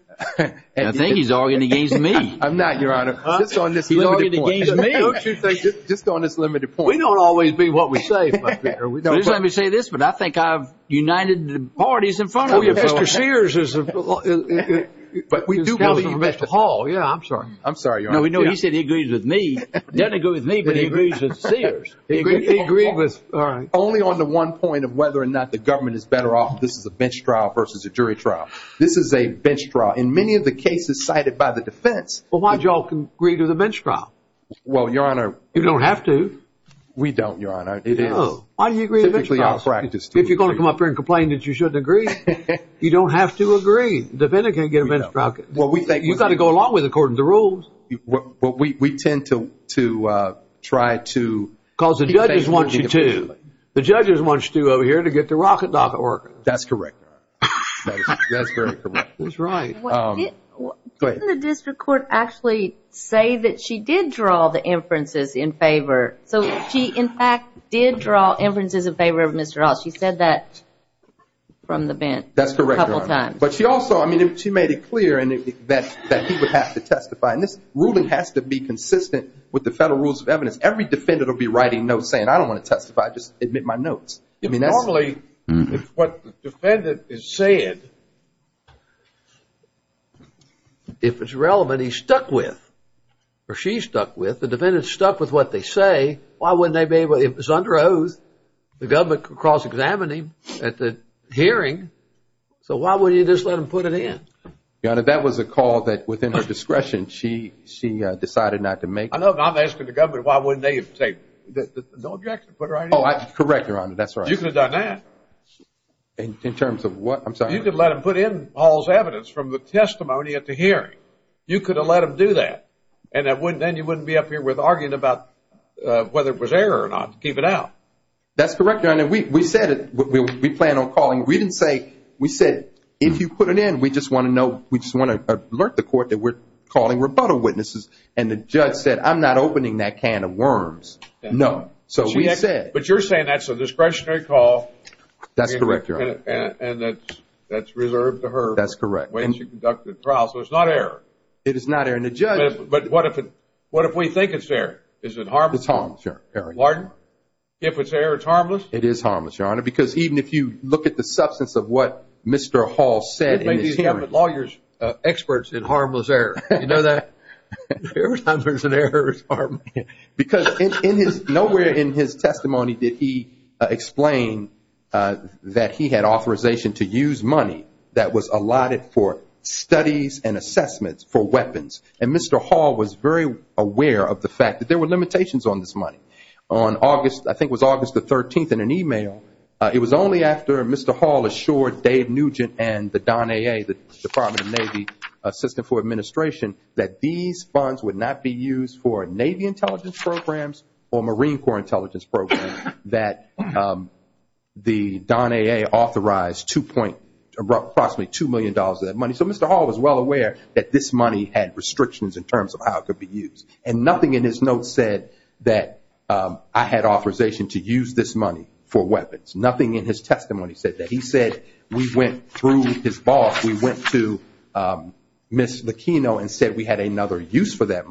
I think he's arguing against me. I'm not, Your Honor. Just on this limited point. He's arguing against me. Just on this limited point. We don't always be what we say. Please let me say this, but I think I've united the parties in front of you. Mr. Sears is a... But we do believe Mr. Hall. Yeah, I'm sorry. I'm sorry, Your Honor. No, we know he said he agrees with me. He doesn't agree with me, but he agrees with Sears. He agreed with... All right. Only on the one point of whether or not the government is better off, this is a bench trial versus a jury trial. This is a bench trial. In many of the cases cited by the defense... Well, why do you all agree to the bench trial? Well, Your Honor... You don't have to. We don't, Your Honor. It is. No. Why do you agree to the bench trial? If you're going to come up here and complain that you shouldn't agree, you don't have to agree. The defendant can't get a bench trial. Well, we think... You've got to go along with it according to the rules. Well, we tend to try to... Because the judges want you to. The judges want you to over here to get the rocket docket working. That's correct. That's very correct. That's right. Didn't the district court actually say that she did draw the inferences in favor? So she, in fact, did draw inferences in favor of Mr. Ross. She said that from the bench a couple times. That's correct, Your Honor. But she also, I mean, she made it clear that he would have to testify. And this ruling has to be consistent with the federal rules of evidence. Every defendant will be writing notes saying, I don't want to testify. Just admit my notes. Normally, if what the defendant is saying, if it's relevant, he's stuck with or she's stuck with. If the defendant is stuck with what they say, why wouldn't they be able, if it's under oath, the government could cross-examine him at the hearing. So why wouldn't you just let them put it in? Your Honor, that was a call that, within her discretion, she decided not to make. I know, but I'm asking the government, why wouldn't they say, no objection, put her right in? Correct, Your Honor. That's right. You could have done that. In terms of what? I'm sorry. You could let them put in Paul's evidence from the testimony at the hearing. You could have let them do that. And then you wouldn't be up here arguing about whether it was error or not to keep it out. That's correct, Your Honor. We said it. We plan on calling. We didn't say, we said, if you put it in, we just want to alert the court that we're calling rebuttal witnesses. And the judge said, I'm not opening that can of worms. No. But you're saying that's a discretionary call. That's correct, Your Honor. And that's reserved to her when she conducted the trial. So it's not error. It is not error. But what if we think it's error? Is it harmless? It's harmless, Your Honor. Pardon? If it's error, it's harmless? It is harmless, Your Honor, because even if you look at the substance of what Mr. Hall said in his hearing. Lawyers are experts in harmless error. You know that? Every time there's an error, it's harmless. Because nowhere in his testimony did he explain that he had authorization to use money that was allotted for studies and assessments for weapons. And Mr. Hall was very aware of the fact that there were limitations on this money. On August, I think it was August the 13th, in an e-mail, it was only after Mr. Hall assured Dave Nugent and the DonAA, the Department of Navy Assistant for Administration, that these funds would not be used for Navy intelligence programs or Marine Corps intelligence programs, that the DonAA authorized approximately $2 million of that money. So Mr. Hall was well aware that this money had restrictions in terms of how it could be used. And nothing in his notes said that I had authorization to use this money for weapons. Nothing in his testimony said that. He said we went through his boss. We went to Ms. Lachino and said we had another use for that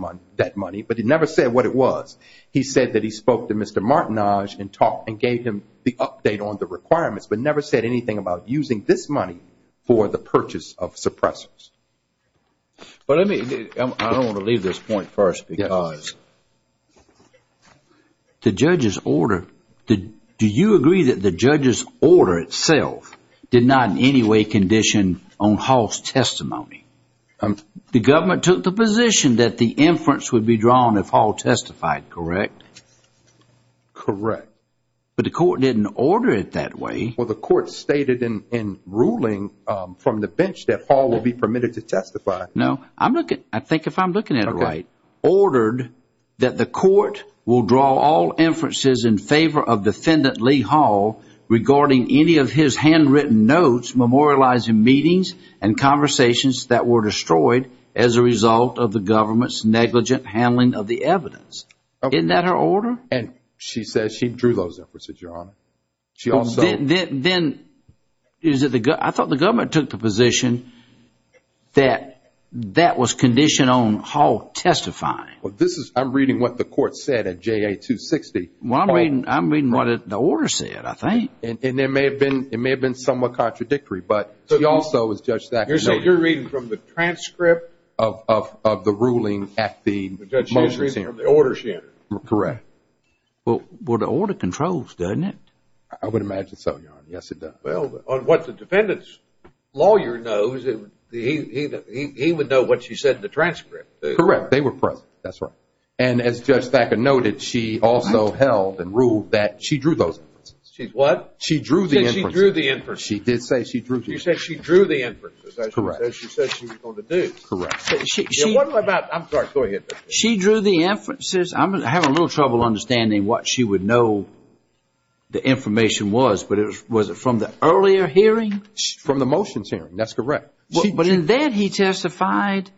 money. But he never said what it was. He said that he spoke to Mr. Martinage and gave him the update on the requirements, but never said anything about using this money for the purchase of suppressors. But I don't want to leave this point first because the judge's order, do you agree that the judge's order itself did not in any way condition on Hall's testimony? The government took the position that the inference would be drawn if Hall testified, correct? Correct. But the court didn't order it that way. Well, the court stated in ruling from the bench that Hall would be permitted to testify. No, I think if I'm looking at it right, ordered that the court will draw all inferences in favor of defendant Lee Hall regarding any of his handwritten notes memorializing meetings and conversations that were destroyed as a result of the government's negligent handling of the evidence. Okay. Isn't that her order? And she says she drew those inferences, Your Honor. Then I thought the government took the position that that was conditioned on Hall testifying. Well, I'm reading what the court said at JA-260. Well, I'm reading what the order said, I think. And it may have been somewhat contradictory, but she also, as Judge Thacker noted. You're reading from the transcript of the ruling at the motion. The judge is reading from the order she entered. Correct. Well, the order controls, doesn't it? I would imagine so, Your Honor. Yes, it does. Well, on what the defendant's lawyer knows, he would know what she said in the transcript. Correct. They were present. That's right. And as Judge Thacker noted, she also held and ruled that she drew those inferences. She what? She drew the inferences. She said she drew the inferences. She did say she drew the inferences. She said she drew the inferences. Correct. She said she was going to do. Correct. I'm sorry. Go ahead. She drew the inferences. I'm having a little trouble understanding what she would know the information was. But was it from the earlier hearing? From the motions hearing. That's correct. But in that he testified,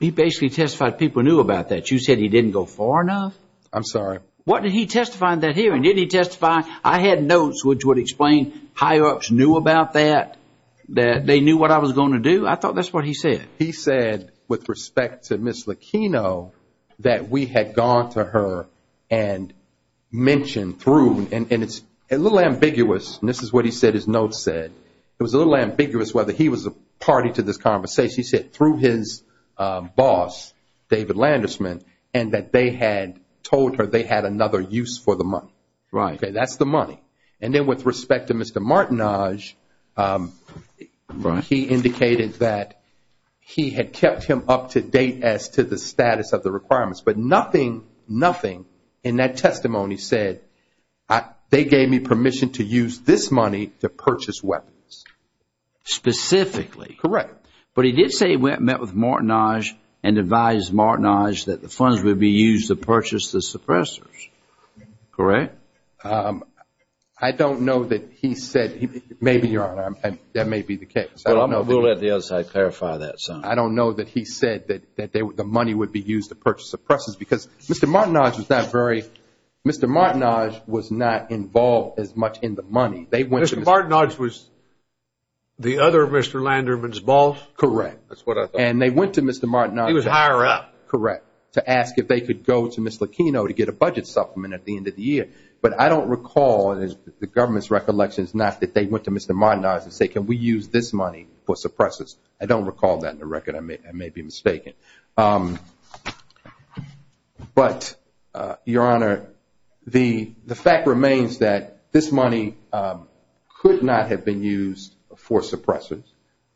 he basically testified people knew about that. You said he didn't go far enough? I'm sorry. What did he testify in that hearing? Didn't he testify? I had notes which would explain higher-ups knew about that, that they knew what I was going to do. I thought that's what he said. He said, with respect to Ms. Lachino, that we had gone to her and mentioned through, and it's a little ambiguous, and this is what he said his notes said. It was a little ambiguous whether he was a party to this conversation. He said through his boss, David Landersman, and that they had told her they had another use for the money. Right. Okay, that's the money. And then with respect to Mr. Martinage, he indicated that he had kept him up to date as to the status of the requirements. But nothing, nothing in that testimony said they gave me permission to use this money to purchase weapons. Specifically. Correct. But he did say he met with Martinage and advised Martinage that the funds would be used to purchase the suppressors. Correct. I don't know that he said, maybe, Your Honor, that may be the case. Well, I'm going to let the other side clarify that. I don't know that he said that the money would be used to purchase the suppressors because Mr. Martinage was not very, Mr. Martinage was not involved as much in the money. Mr. Martinage was the other Mr. Landersman's boss? Correct. That's what I thought. And they went to Mr. Martinage. He was a higher-up. Correct. To ask if they could go to Mr. Aquino to get a budget supplement at the end of the year. But I don't recall, and the government's recollection is not that they went to Mr. Martinage and said, can we use this money for suppressors? I don't recall that in the record. I may be mistaken. But, Your Honor, the fact remains that this money could not have been used for suppressors.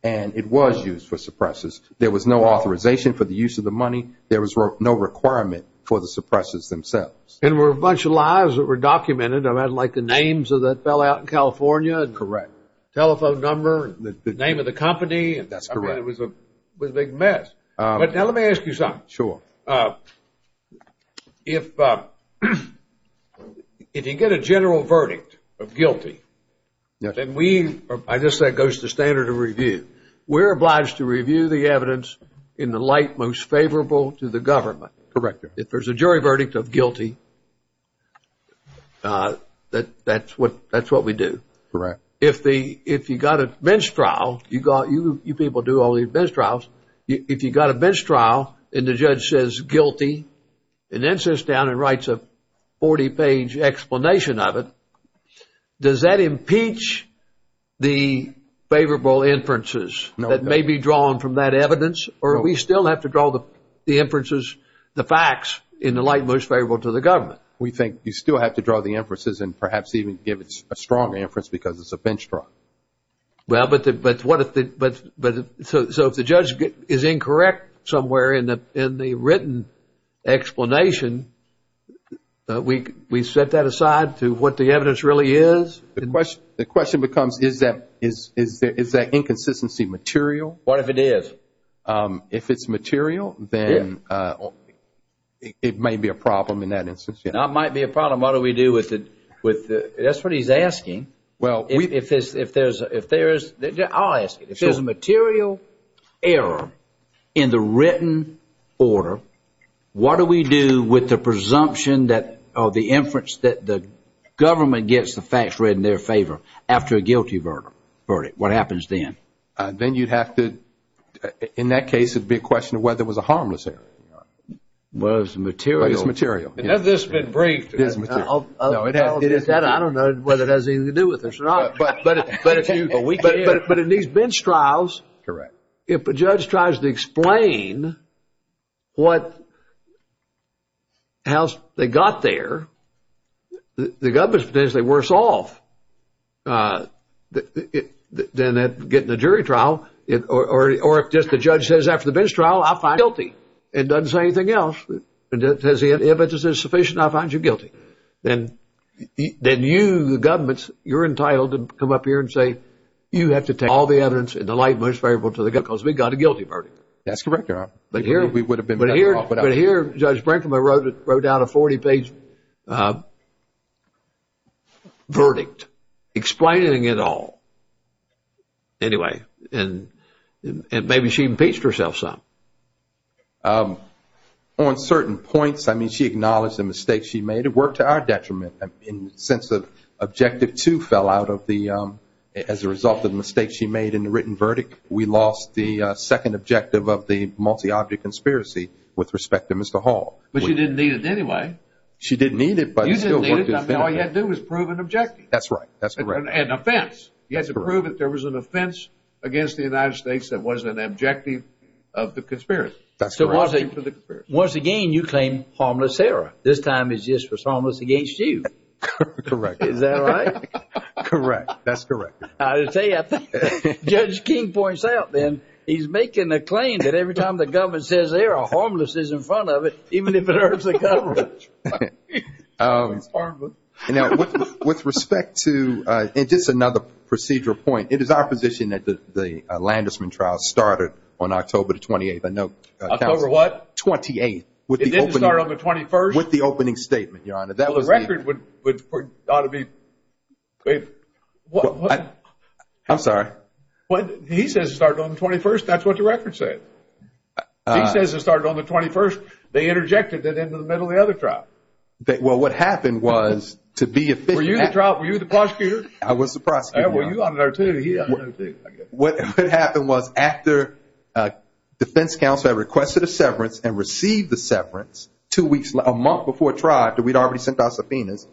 And it was used for suppressors. There was no authorization for the use of the money. There was no requirement for the suppressors themselves. And there were a bunch of lies that were documented, like the names that fell out in California. Correct. Telephone number, the name of the company. That's correct. It was a big mess. But now let me ask you something. Sure. If you get a general verdict of guilty, then we, I just said it goes to standard of review, we're obliged to review the evidence in the light most favorable to the government. Correct. If there's a jury verdict of guilty, that's what we do. Correct. If you got a bench trial, you people do all these bench trials, if you got a bench trial and the judge says guilty and then sits down and writes a 40-page explanation of it, does that impeach the favorable inferences that may be drawn from that evidence? Or do we still have to draw the inferences, the facts, in the light most favorable to the government? We think you still have to draw the inferences and perhaps even give it a strong inference because it's a bench trial. Well, but what if the, so if the judge is incorrect somewhere in the written explanation, we set that aside to what the evidence really is? The question becomes is that inconsistency material? What if it is? If it's material, then it may be a problem in that instance. It might be a problem. What do we do with it? That's what he's asking. Well, if there's, I'll ask it. If there's a material error in the written order, what do we do with the presumption or the inference that the government gets the facts read in their favor after a guilty verdict? What happens then? Then you'd have to, in that case, it would be a question of whether it was a harmless error. Whether it was material. Whether it was material. Has this been briefed? No, it hasn't. I don't know whether it has anything to do with this or not. But in these bench trials, if a judge tries to explain what, how they got there, the government's potentially worse off than getting a jury trial, or if just the judge says after the bench trial, I find you guilty, and doesn't say anything else. If it's sufficient, I find you guilty. Then you, the government, you're entitled to come up here and say, you have to take all the evidence in the light and most favorable to the government because we got a guilty verdict. That's correct, Your Honor. We would have been better off without it. But here, Judge Brinkman wrote down a 40-page verdict explaining it all. Anyway, and maybe she impeached herself some. On certain points, I mean, she acknowledged the mistake she made. It worked to our detriment in the sense that Objective 2 fell out of the, as a result of the mistake she made in the written verdict, we lost the second objective of the multi-object conspiracy with respect to Mr. Hall. But she didn't need it anyway. She didn't need it, but it still worked. All you had to do was prove an objective. That's right. That's correct. And an offense. You had to prove that there was an offense against the United States that wasn't an objective of the conspiracy. Once again, you claim harmless error. This time it's just was harmless against you. Correct. Is that right? Correct. That's correct. I'll tell you, I think Judge King points out then, he's making a claim that every time the government says they're a harmless, it's in front of it, even if it hurts the government. It's harmless. With respect to, and just another procedural point, it is our position that the Landesman trial started on October 28th. October what? 28th. It didn't start on the 21st? With the opening statement, Your Honor. Well, the record would ought to be. I'm sorry. He says it started on the 21st. That's what the record said. He says it started on the 21st. They interjected that into the middle of the other trial. Well, what happened was to be official. Were you the prosecutor? I was the prosecutor. Well, you ought to know, too. He ought to know, too. What happened was after defense counsel had requested a severance and received the severance a month before trial, that we'd already sent out subpoenas,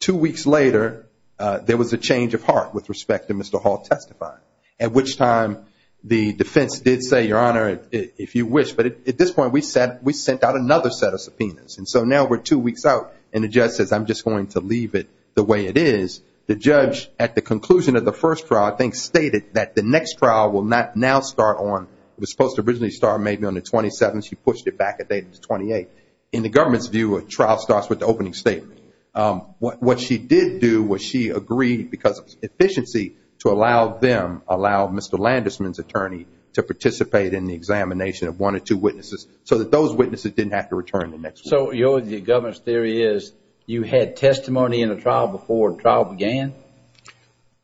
two weeks later there was a change of heart with respect to Mr. Hall testifying, at which time the defense did say, Your Honor, if you wish. But at this point we sent out another set of subpoenas. And so now we're two weeks out and the judge says I'm just going to leave it the way it is. The judge, at the conclusion of the first trial, I think stated that the next trial will not now start on, it was supposed to originally start maybe on the 27th. She pushed it back a date to the 28th. In the government's view, a trial starts with the opening statement. What she did do was she agreed because of efficiency to allow them, allow Mr. Landesman's attorney to participate in the examination of one or two witnesses so that those witnesses didn't have to return the next one. So the government's theory is you had testimony in a trial before a trial began?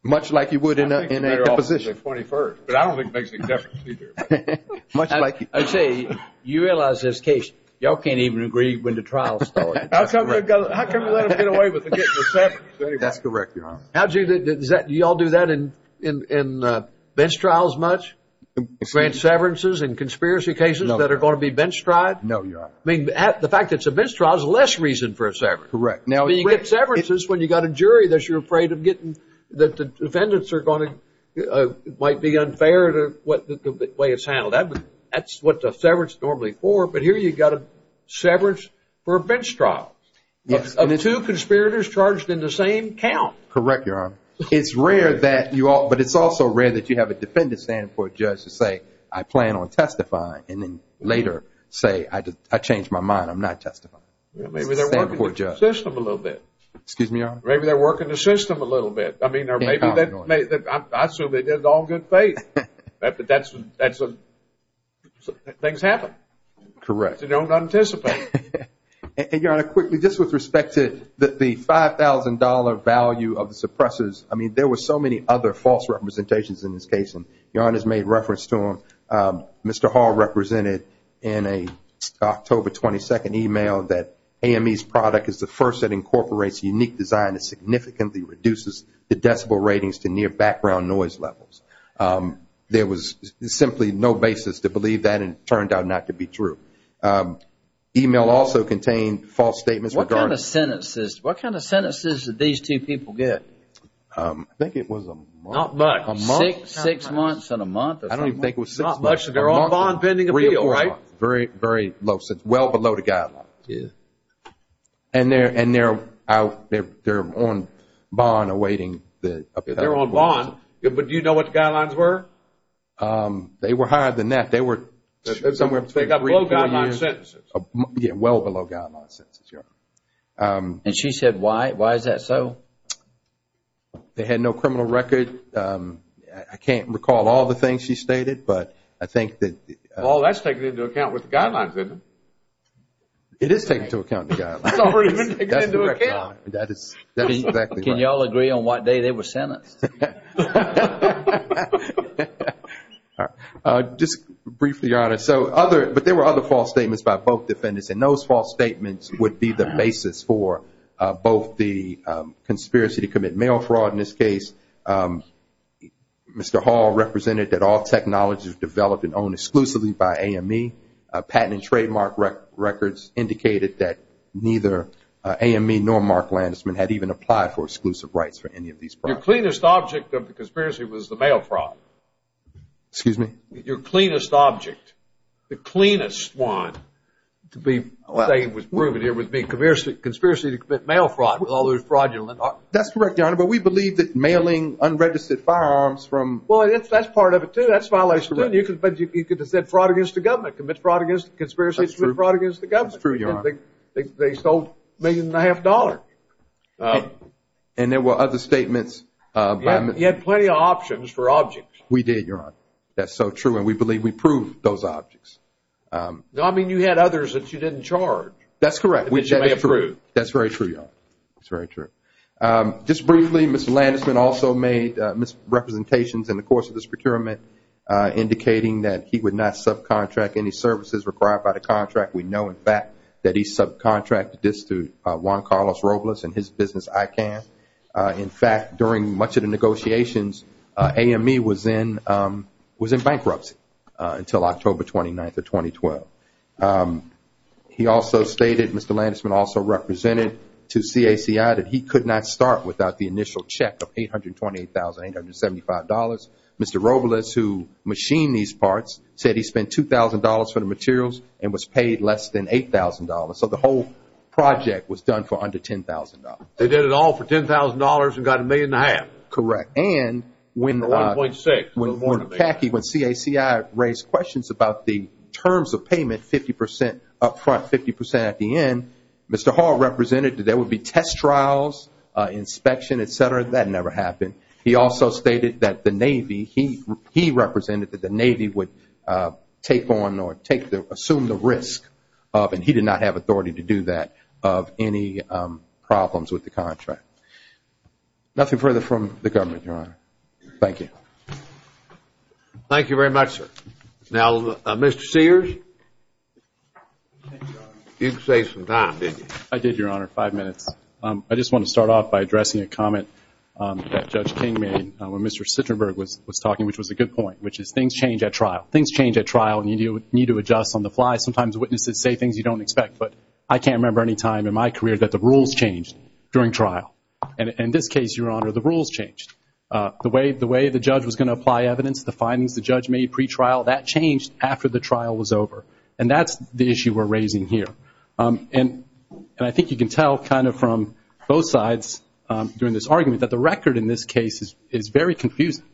Much like you would in a deposition. But I don't think it makes any difference either. I'd say you realize this case, y'all can't even agree when the trial started. How can we let them get away with getting a severance anyway? That's correct, Your Honor. Y'all do that in bench trials much? Grand severances in conspiracy cases that are going to be bench tried? No, Your Honor. The fact that it's a bench trial is less reason for a severance. Correct. You get severances when you've got a jury that you're afraid of getting, that the defendants might be unfair to the way it's handled. That's what the severance is normally for. But here you've got a severance for a bench trial. Yes. Of two conspirators charged in the same count. Correct, Your Honor. It's rare that you all, but it's also rare that you have a defendant standing before a judge to say, I plan on testifying. And then later say, I changed my mind, I'm not testifying. Maybe they're working the system a little bit. Excuse me, Your Honor? Maybe they're working the system a little bit. I mean, I assume they did it all good faith. But things happen. Correct. You don't anticipate it. And, Your Honor, quickly, just with respect to the $5,000 value of the suppressors, I mean there were so many other false representations in this case, and Your Honor's made reference to them. Mr. Hall represented in an October 22nd email that AME's product is the first that incorporates unique design that significantly reduces the decibel ratings to near background noise levels. There was simply no basis to believe that, and it turned out not to be true. The email also contained false statements. What kind of sentences did these two people get? I think it was a month. Not much. Six months and a month. I don't even think it was six months. Not much. They're on bond pending appeal, right? Very low, well below the guidelines. And they're on bond awaiting the appeal. They're on bond. But do you know what the guidelines were? They were higher than that. They were somewhere between three and four years. They got below guideline sentences. Yeah, well below guideline sentences, Your Honor. And she said why? Why is that so? They had no criminal record. I can't recall all the things she stated, but I think that the – Well, that's taken into account with the guidelines, isn't it? It is taken into account with the guidelines. It's already been taken into account. That is exactly right. Can you all agree on what day they were sentenced? Just briefly, Your Honor. But there were other false statements by both defendants, and those false statements would be the basis for both the conspiracy to commit mail fraud in this case. Mr. Hall represented that all technology was developed and owned exclusively by AME. Patent and trademark records indicated that neither AME nor Mark Landisman had even applied for exclusive rights for any of these products. Your cleanest object of the conspiracy was the mail fraud. Excuse me? Your cleanest object. The cleanest one to be proven here would be conspiracy to commit mail fraud with all those fraudulent – That's correct, Your Honor. But we believe that mailing unregistered firearms from – Well, that's part of it, too. That's violation, too. But you could have said fraud against the government, commit fraud against conspiracy to commit fraud against the government. That's true, Your Honor. They sold a million and a half dollars. And there were other statements by – You had plenty of options for objects. We did, Your Honor. That's so true, and we believe we proved those objects. No, I mean you had others that you didn't charge. That's correct. Which you may have proved. That's very true, Your Honor. That's very true. Just briefly, Mr. Landisman also made misrepresentations in the course of this procurement indicating that he would not subcontract any services required by the contract. We know, in fact, that he subcontracted this through Juan Carlos Robles and his business ICANN. In fact, during much of the negotiations, AME was in bankruptcy until October 29th of 2012. He also stated, Mr. Landisman also represented to CACI that he could not start without the initial check of $828,875. Mr. Robles, who machined these parts, said he spent $2,000 for the materials and was paid less than $8,000. So the whole project was done for under $10,000. They did it all for $10,000 and got a million and a half. Correct. And when CACI raised questions about the terms of payment, 50 percent up front, 50 percent at the end, Mr. Hall represented that there would be test trials, inspection, et cetera. That never happened. He also stated that the Navy, he represented that the Navy would take on or take the risk, and he did not have authority to do that, of any problems with the contract. Nothing further from the government, Your Honor. Thank you. Thank you very much, sir. Now, Mr. Sears, you can say something. I did, Your Honor. Five minutes. I just want to start off by addressing a comment that Judge King made when Mr. Sitterberg was talking, which was a good point, which is things change at trial. You need to adjust on the fly. Sometimes witnesses say things you don't expect, but I can't remember any time in my career that the rules changed during trial. And in this case, Your Honor, the rules changed. The way the judge was going to apply evidence, the findings the judge made pretrial, that changed after the trial was over. And that's the issue we're raising here. And I think you can tell kind of from both sides during this argument that the record in this case is very confusing.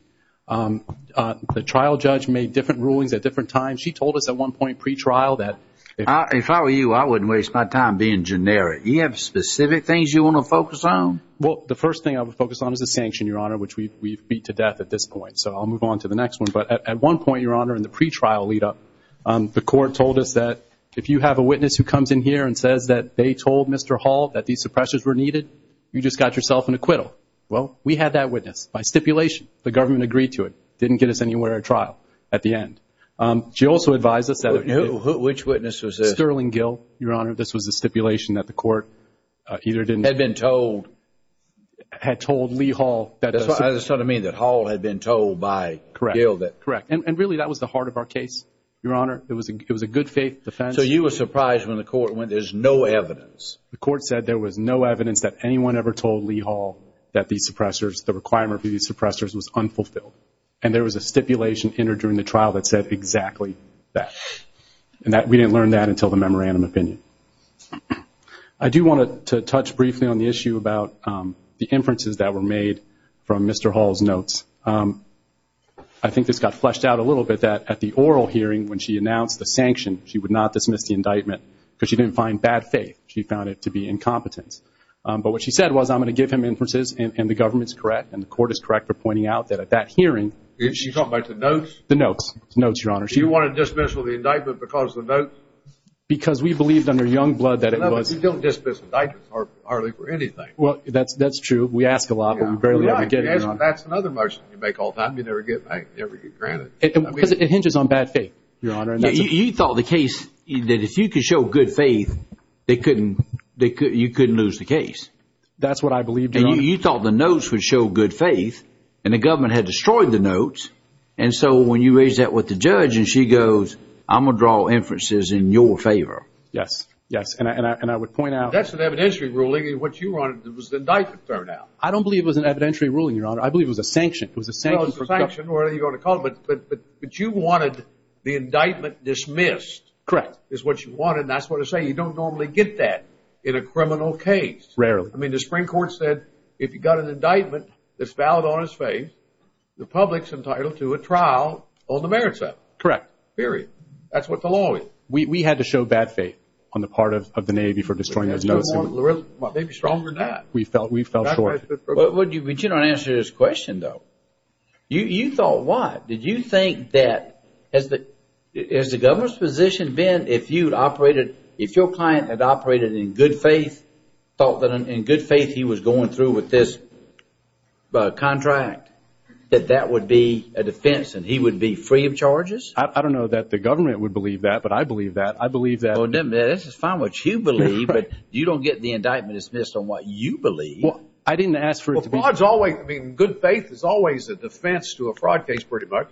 The trial judge made different rulings at different times. She told us at one point pretrial that if I were you, I wouldn't waste my time being generic. Do you have specific things you want to focus on? Well, the first thing I would focus on is the sanction, Your Honor, which we've beat to death at this point. So I'll move on to the next one. But at one point, Your Honor, in the pretrial lead up, the court told us that if you have a witness who comes in here and says that they told Mr. Hall that these suppressors were needed, you just got yourself an acquittal. Well, we had that witness by stipulation. The government agreed to it. Didn't get us anywhere at trial at the end. She also advised us that- Which witness was this? Sterling Gill, Your Honor. This was a stipulation that the court either didn't- Had been told- Had told Lee Hall that- That's what I mean, that Hall had been told by Gill that- Correct, correct. And really that was the heart of our case, Your Honor. It was a good faith defense. So you were surprised when the court went, there's no evidence. The court said there was no evidence that anyone ever told Lee Hall that these suppressors, was unfulfilled. And there was a stipulation entered during the trial that said exactly that. And that we didn't learn that until the memorandum opinion. I do want to touch briefly on the issue about the inferences that were made from Mr. Hall's notes. I think this got fleshed out a little bit that at the oral hearing when she announced the sanction, she would not dismiss the indictment because she didn't find bad faith. She found it to be incompetence. But what she said was, I'm going to give him inferences and the government's correct and the court is correct for pointing out that at that hearing- You're talking about the notes? The notes, Your Honor. She wanted to dismiss the indictment because of the notes? Because we believed under Youngblood that it was- We don't dismiss indictments hardly for anything. Well, that's true. We ask a lot, but we barely ever get it, Your Honor. That's another motion you make all the time. You never get granted. It hinges on bad faith, Your Honor. You thought the case, that if you could show good faith, you couldn't lose the case. That's what I believed, Your Honor. You thought the notes would show good faith, and the government had destroyed the notes, and so when you raised that with the judge and she goes, I'm going to draw inferences in your favor. Yes, yes. And I would point out- That's an evidentiary ruling. What you wanted was the indictment turned out. I don't believe it was an evidentiary ruling, Your Honor. I believe it was a sanction. It was a sanction for- Well, it was a sanction, whatever you want to call it. But you wanted the indictment dismissed. Correct. Is what you wanted, and that's what I say. You don't normally get that in a criminal case. Rarely. I mean, the Supreme Court said if you got an indictment that's valid on his faith, the public's entitled to a trial on the merits of it. Correct. Period. That's what the law is. We had to show bad faith on the part of the Navy for destroying those notes. Maybe stronger than that. We fell short. But you don't answer this question, though. You thought what? Did you think that, has the government's position been if you'd operated, if your client had operated in good faith, thought that in good faith he was going through with this contract, that that would be a defense and he would be free of charges? I don't know that the government would believe that, but I believe that. I believe that- Well, then, this is fine what you believe, but you don't get the indictment dismissed on what you believe. Well, I didn't ask for it to be- Well, God's always, I mean, good faith is always a defense to a fraud case, pretty much.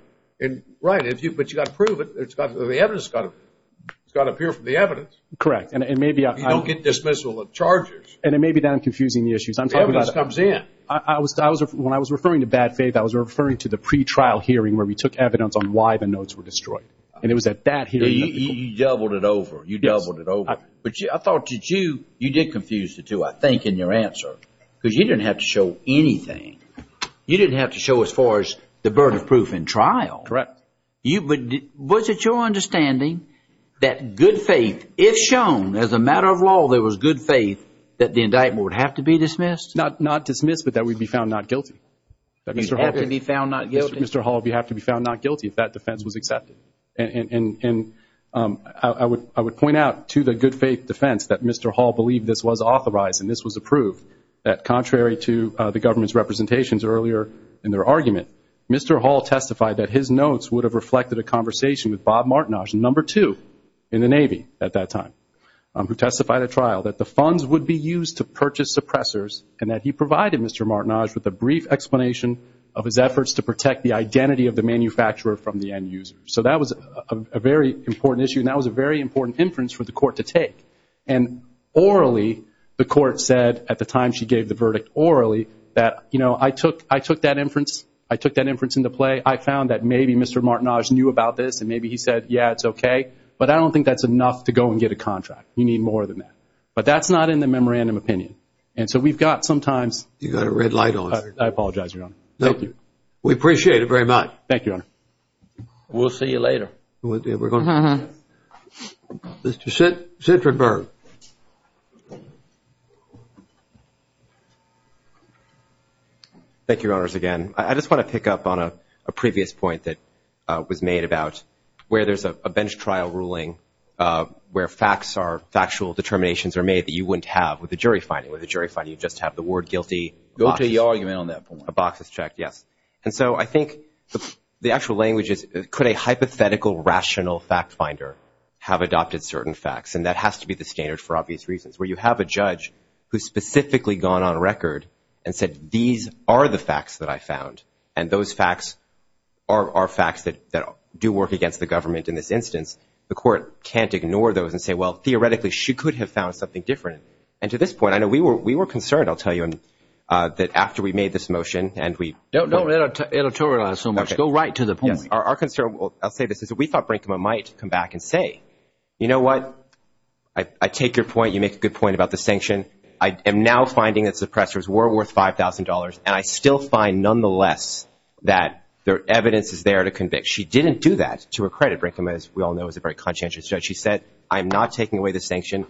Right. But you've got to prove it. The evidence has got to appear from the evidence. Correct. And maybe I- You don't get dismissal of charges. And it may be that I'm confusing the issues. I'm talking about- The evidence comes in. When I was referring to bad faith, I was referring to the pretrial hearing where we took evidence on why the notes were destroyed. And it was at that hearing- You doubled it over. You doubled it over. Yes. But I thought you did confuse the two, I think, in your answer, because you didn't have to show anything. You didn't have to show as far as the burden of proof in trial. Correct. But was it your understanding that good faith, if shown as a matter of law there was good faith, that the indictment would have to be dismissed? Not dismissed, but that we'd be found not guilty. You'd have to be found not guilty? Mr. Hall, you'd have to be found not guilty if that defense was accepted. And I would point out to the good faith defense that Mr. Hall believed this was authorized and this was approved, that contrary to the government's representations earlier in their argument, Mr. Hall testified that his notes would have reflected a conversation with Bob Martinage, number two in the Navy at that time, who testified at trial that the funds would be used to purchase suppressors and that he provided Mr. Martinage with a brief explanation of his efforts to protect the identity of the manufacturer from the end user. So that was a very important issue, and that was a very important inference for the court to take. And orally, the court said at the time she gave the verdict orally that, you know, I took that inference into play. I found that maybe Mr. Martinage knew about this and maybe he said, yeah, it's okay, but I don't think that's enough to go and get a contract. You need more than that. But that's not in the memorandum opinion. And so we've got sometimes – You've got a red light on. I apologize, Your Honor. Thank you. We appreciate it very much. Thank you, Your Honor. We'll see you later. Mr. Shedrenberg. Thank you, Your Honors, again. I just want to pick up on a previous point that was made about where there's a bench trial ruling where facts are – factual determinations are made that you wouldn't have with a jury finding. With a jury finding, you just have the word guilty. Go to the argument on that point. A box is checked, yes. And so I think the actual language is could a hypothetical rational fact finder have adopted certain facts? And that has to be the standard for obvious reasons, where you have a judge who's specifically gone on record and said, these are the facts that I found, and those facts are facts that do work against the government in this instance. The court can't ignore those and say, well, theoretically, she could have found something different. And to this point, I know we were concerned, I'll tell you, that after we made this motion and we – Don't editorialize so much. Go right to the point. Our concern – I'll say this. We thought Brinkman might come back and say, you know what? I take your point. You make a good point about the sanction. I am now finding that suppressors were worth $5,000, and I still find nonetheless that there are evidences there to convict. She didn't do that. To her credit, Brinkman, as we all know, is a very conscientious judge. She said, I'm not taking away the sanction.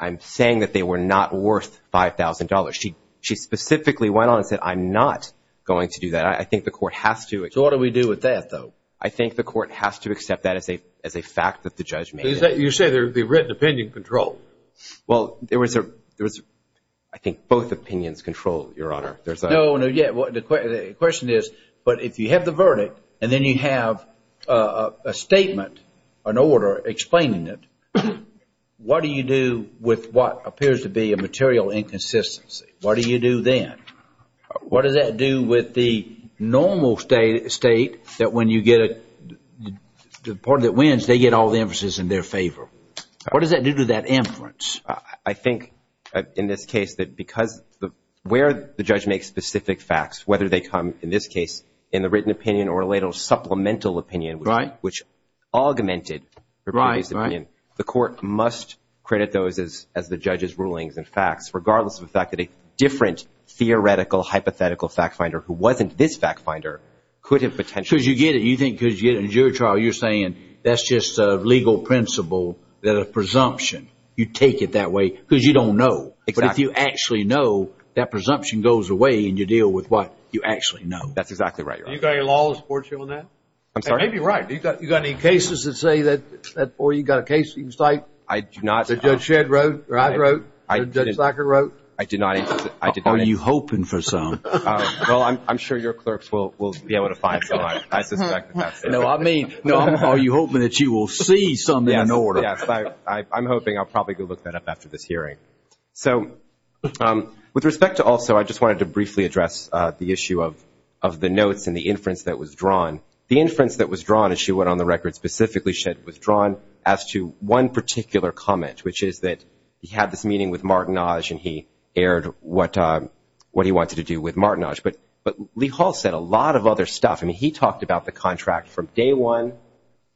I'm saying that they were not worth $5,000. She specifically went on and said, I'm not going to do that. I think the court has to – So what do we do with that, though? I think the court has to accept that as a fact that the judge made it. You say there would be written opinion control. Well, there was a – I think both opinions control, Your Honor. No, no, yeah. The question is, but if you have the verdict and then you have a statement, an order explaining it, what do you do with what appears to be a material inconsistency? What do you do then? What does that do with the normal state that when you get a – the party that wins, they get all the inferences in their favor? What does that do to that inference? I think, in this case, that because where the judge makes specific facts, whether they come, in this case, in the written opinion or a little supplemental opinion, which augmented – Right, right. The court must credit those as the judge's rulings and facts, regardless of the fact that a different theoretical hypothetical fact finder who wasn't this fact finder could have potentially – Because you get it. You think because you get it in a jury trial, you're saying that's just a legal principle, that a presumption, you take it that way because you don't know. Exactly. But if you actually know, that presumption goes away and you deal with what you actually know. That's exactly right, Your Honor. And you've got your law that supports you on that? I'm sorry? Maybe right. You got any cases that say that, or you got a case you can cite? I do not. That Judge Shedd wrote, or I wrote, or Judge Lacker wrote? I did not. Are you hoping for some? Well, I'm sure your clerks will be able to find some. I suspect that's true. No, I mean, are you hoping that you will see some in order? Yes, yes. I'm hoping. I'll probably go look that up after this hearing. So with respect to also, I just wanted to briefly address the issue of the notes and the inference that was drawn. The inference that was drawn, as she went on the record specifically, she had withdrawn as to one particular comment, which is that he had this meeting with Martinage and he aired what he wanted to do with Martinage. But Lee Hall said a lot of other stuff. I mean, he talked about the contract from day one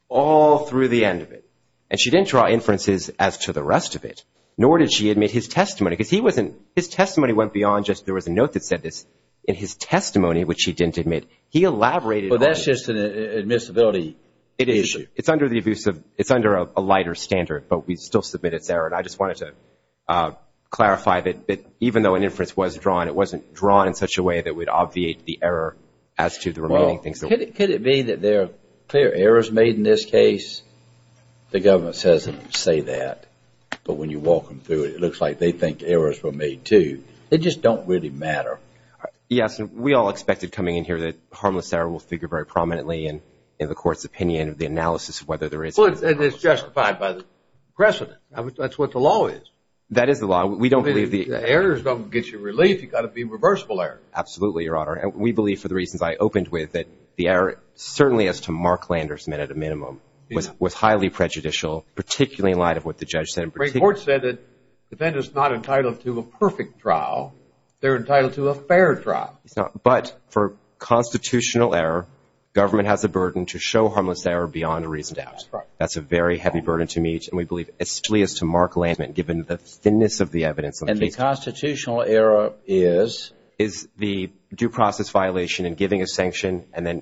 all through the end of it. And she didn't draw inferences as to the rest of it, nor did she admit his testimony. Because his testimony went beyond just there was a note that said this. In his testimony, which he didn't admit, he elaborated on it. Well, that's just an admissibility issue. It's under a lighter standard, but we still submit it's error. And I just wanted to clarify that even though an inference was drawn, it wasn't drawn in such a way that would obviate the error as to the remaining things. Could it be that there are clear errors made in this case? The government doesn't say that. But when you walk them through it, it looks like they think errors were made too. They just don't really matter. Yes, and we all expected coming in here that harmless error will figure very prominently in the court's opinion of the analysis of whether there is. And it's justified by the precedent. That's what the law is. That is the law. Errors don't get you relief. You've got to be a reversible error. Absolutely, Your Honor. And we believe, for the reasons I opened with, that the error certainly as to Mark Landers meant at a minimum was highly prejudicial, particularly in light of what the judge said. The Supreme Court said that defendants are not entitled to a perfect trial. They're entitled to a fair trial. But for constitutional error, government has a burden to show harmless error beyond a reason to ask. That's a very heavy burden to meet. And we believe essentially as to Mark Landers meant given the thinness of the evidence. And the constitutional error is? Is the due process violation and giving a sanction and then,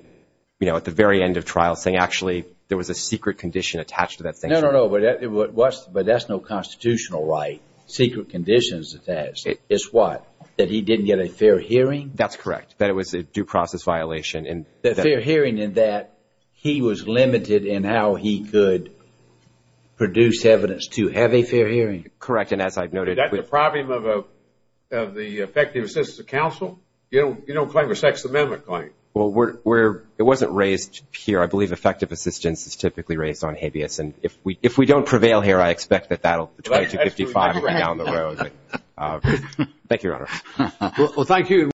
you know, at the very end of trial saying actually there was a secret condition attached to that sanction. No, no, no. But that's no constitutional right. Secret conditions attached. It's what? That he didn't get a fair hearing? That's correct. That it was a due process violation. Fair hearing in that he was limited in how he could produce evidence to have a fair hearing. Correct. And as I've noted. Is that the problem of the effective assistance of counsel? You don't claim a Sixth Amendment claim. Well, it wasn't raised here. I believe effective assistance is typically raised on habeas. And if we don't prevail here, I expect that that will be 255 down the road. Thank you, Your Honor. Well, thank you.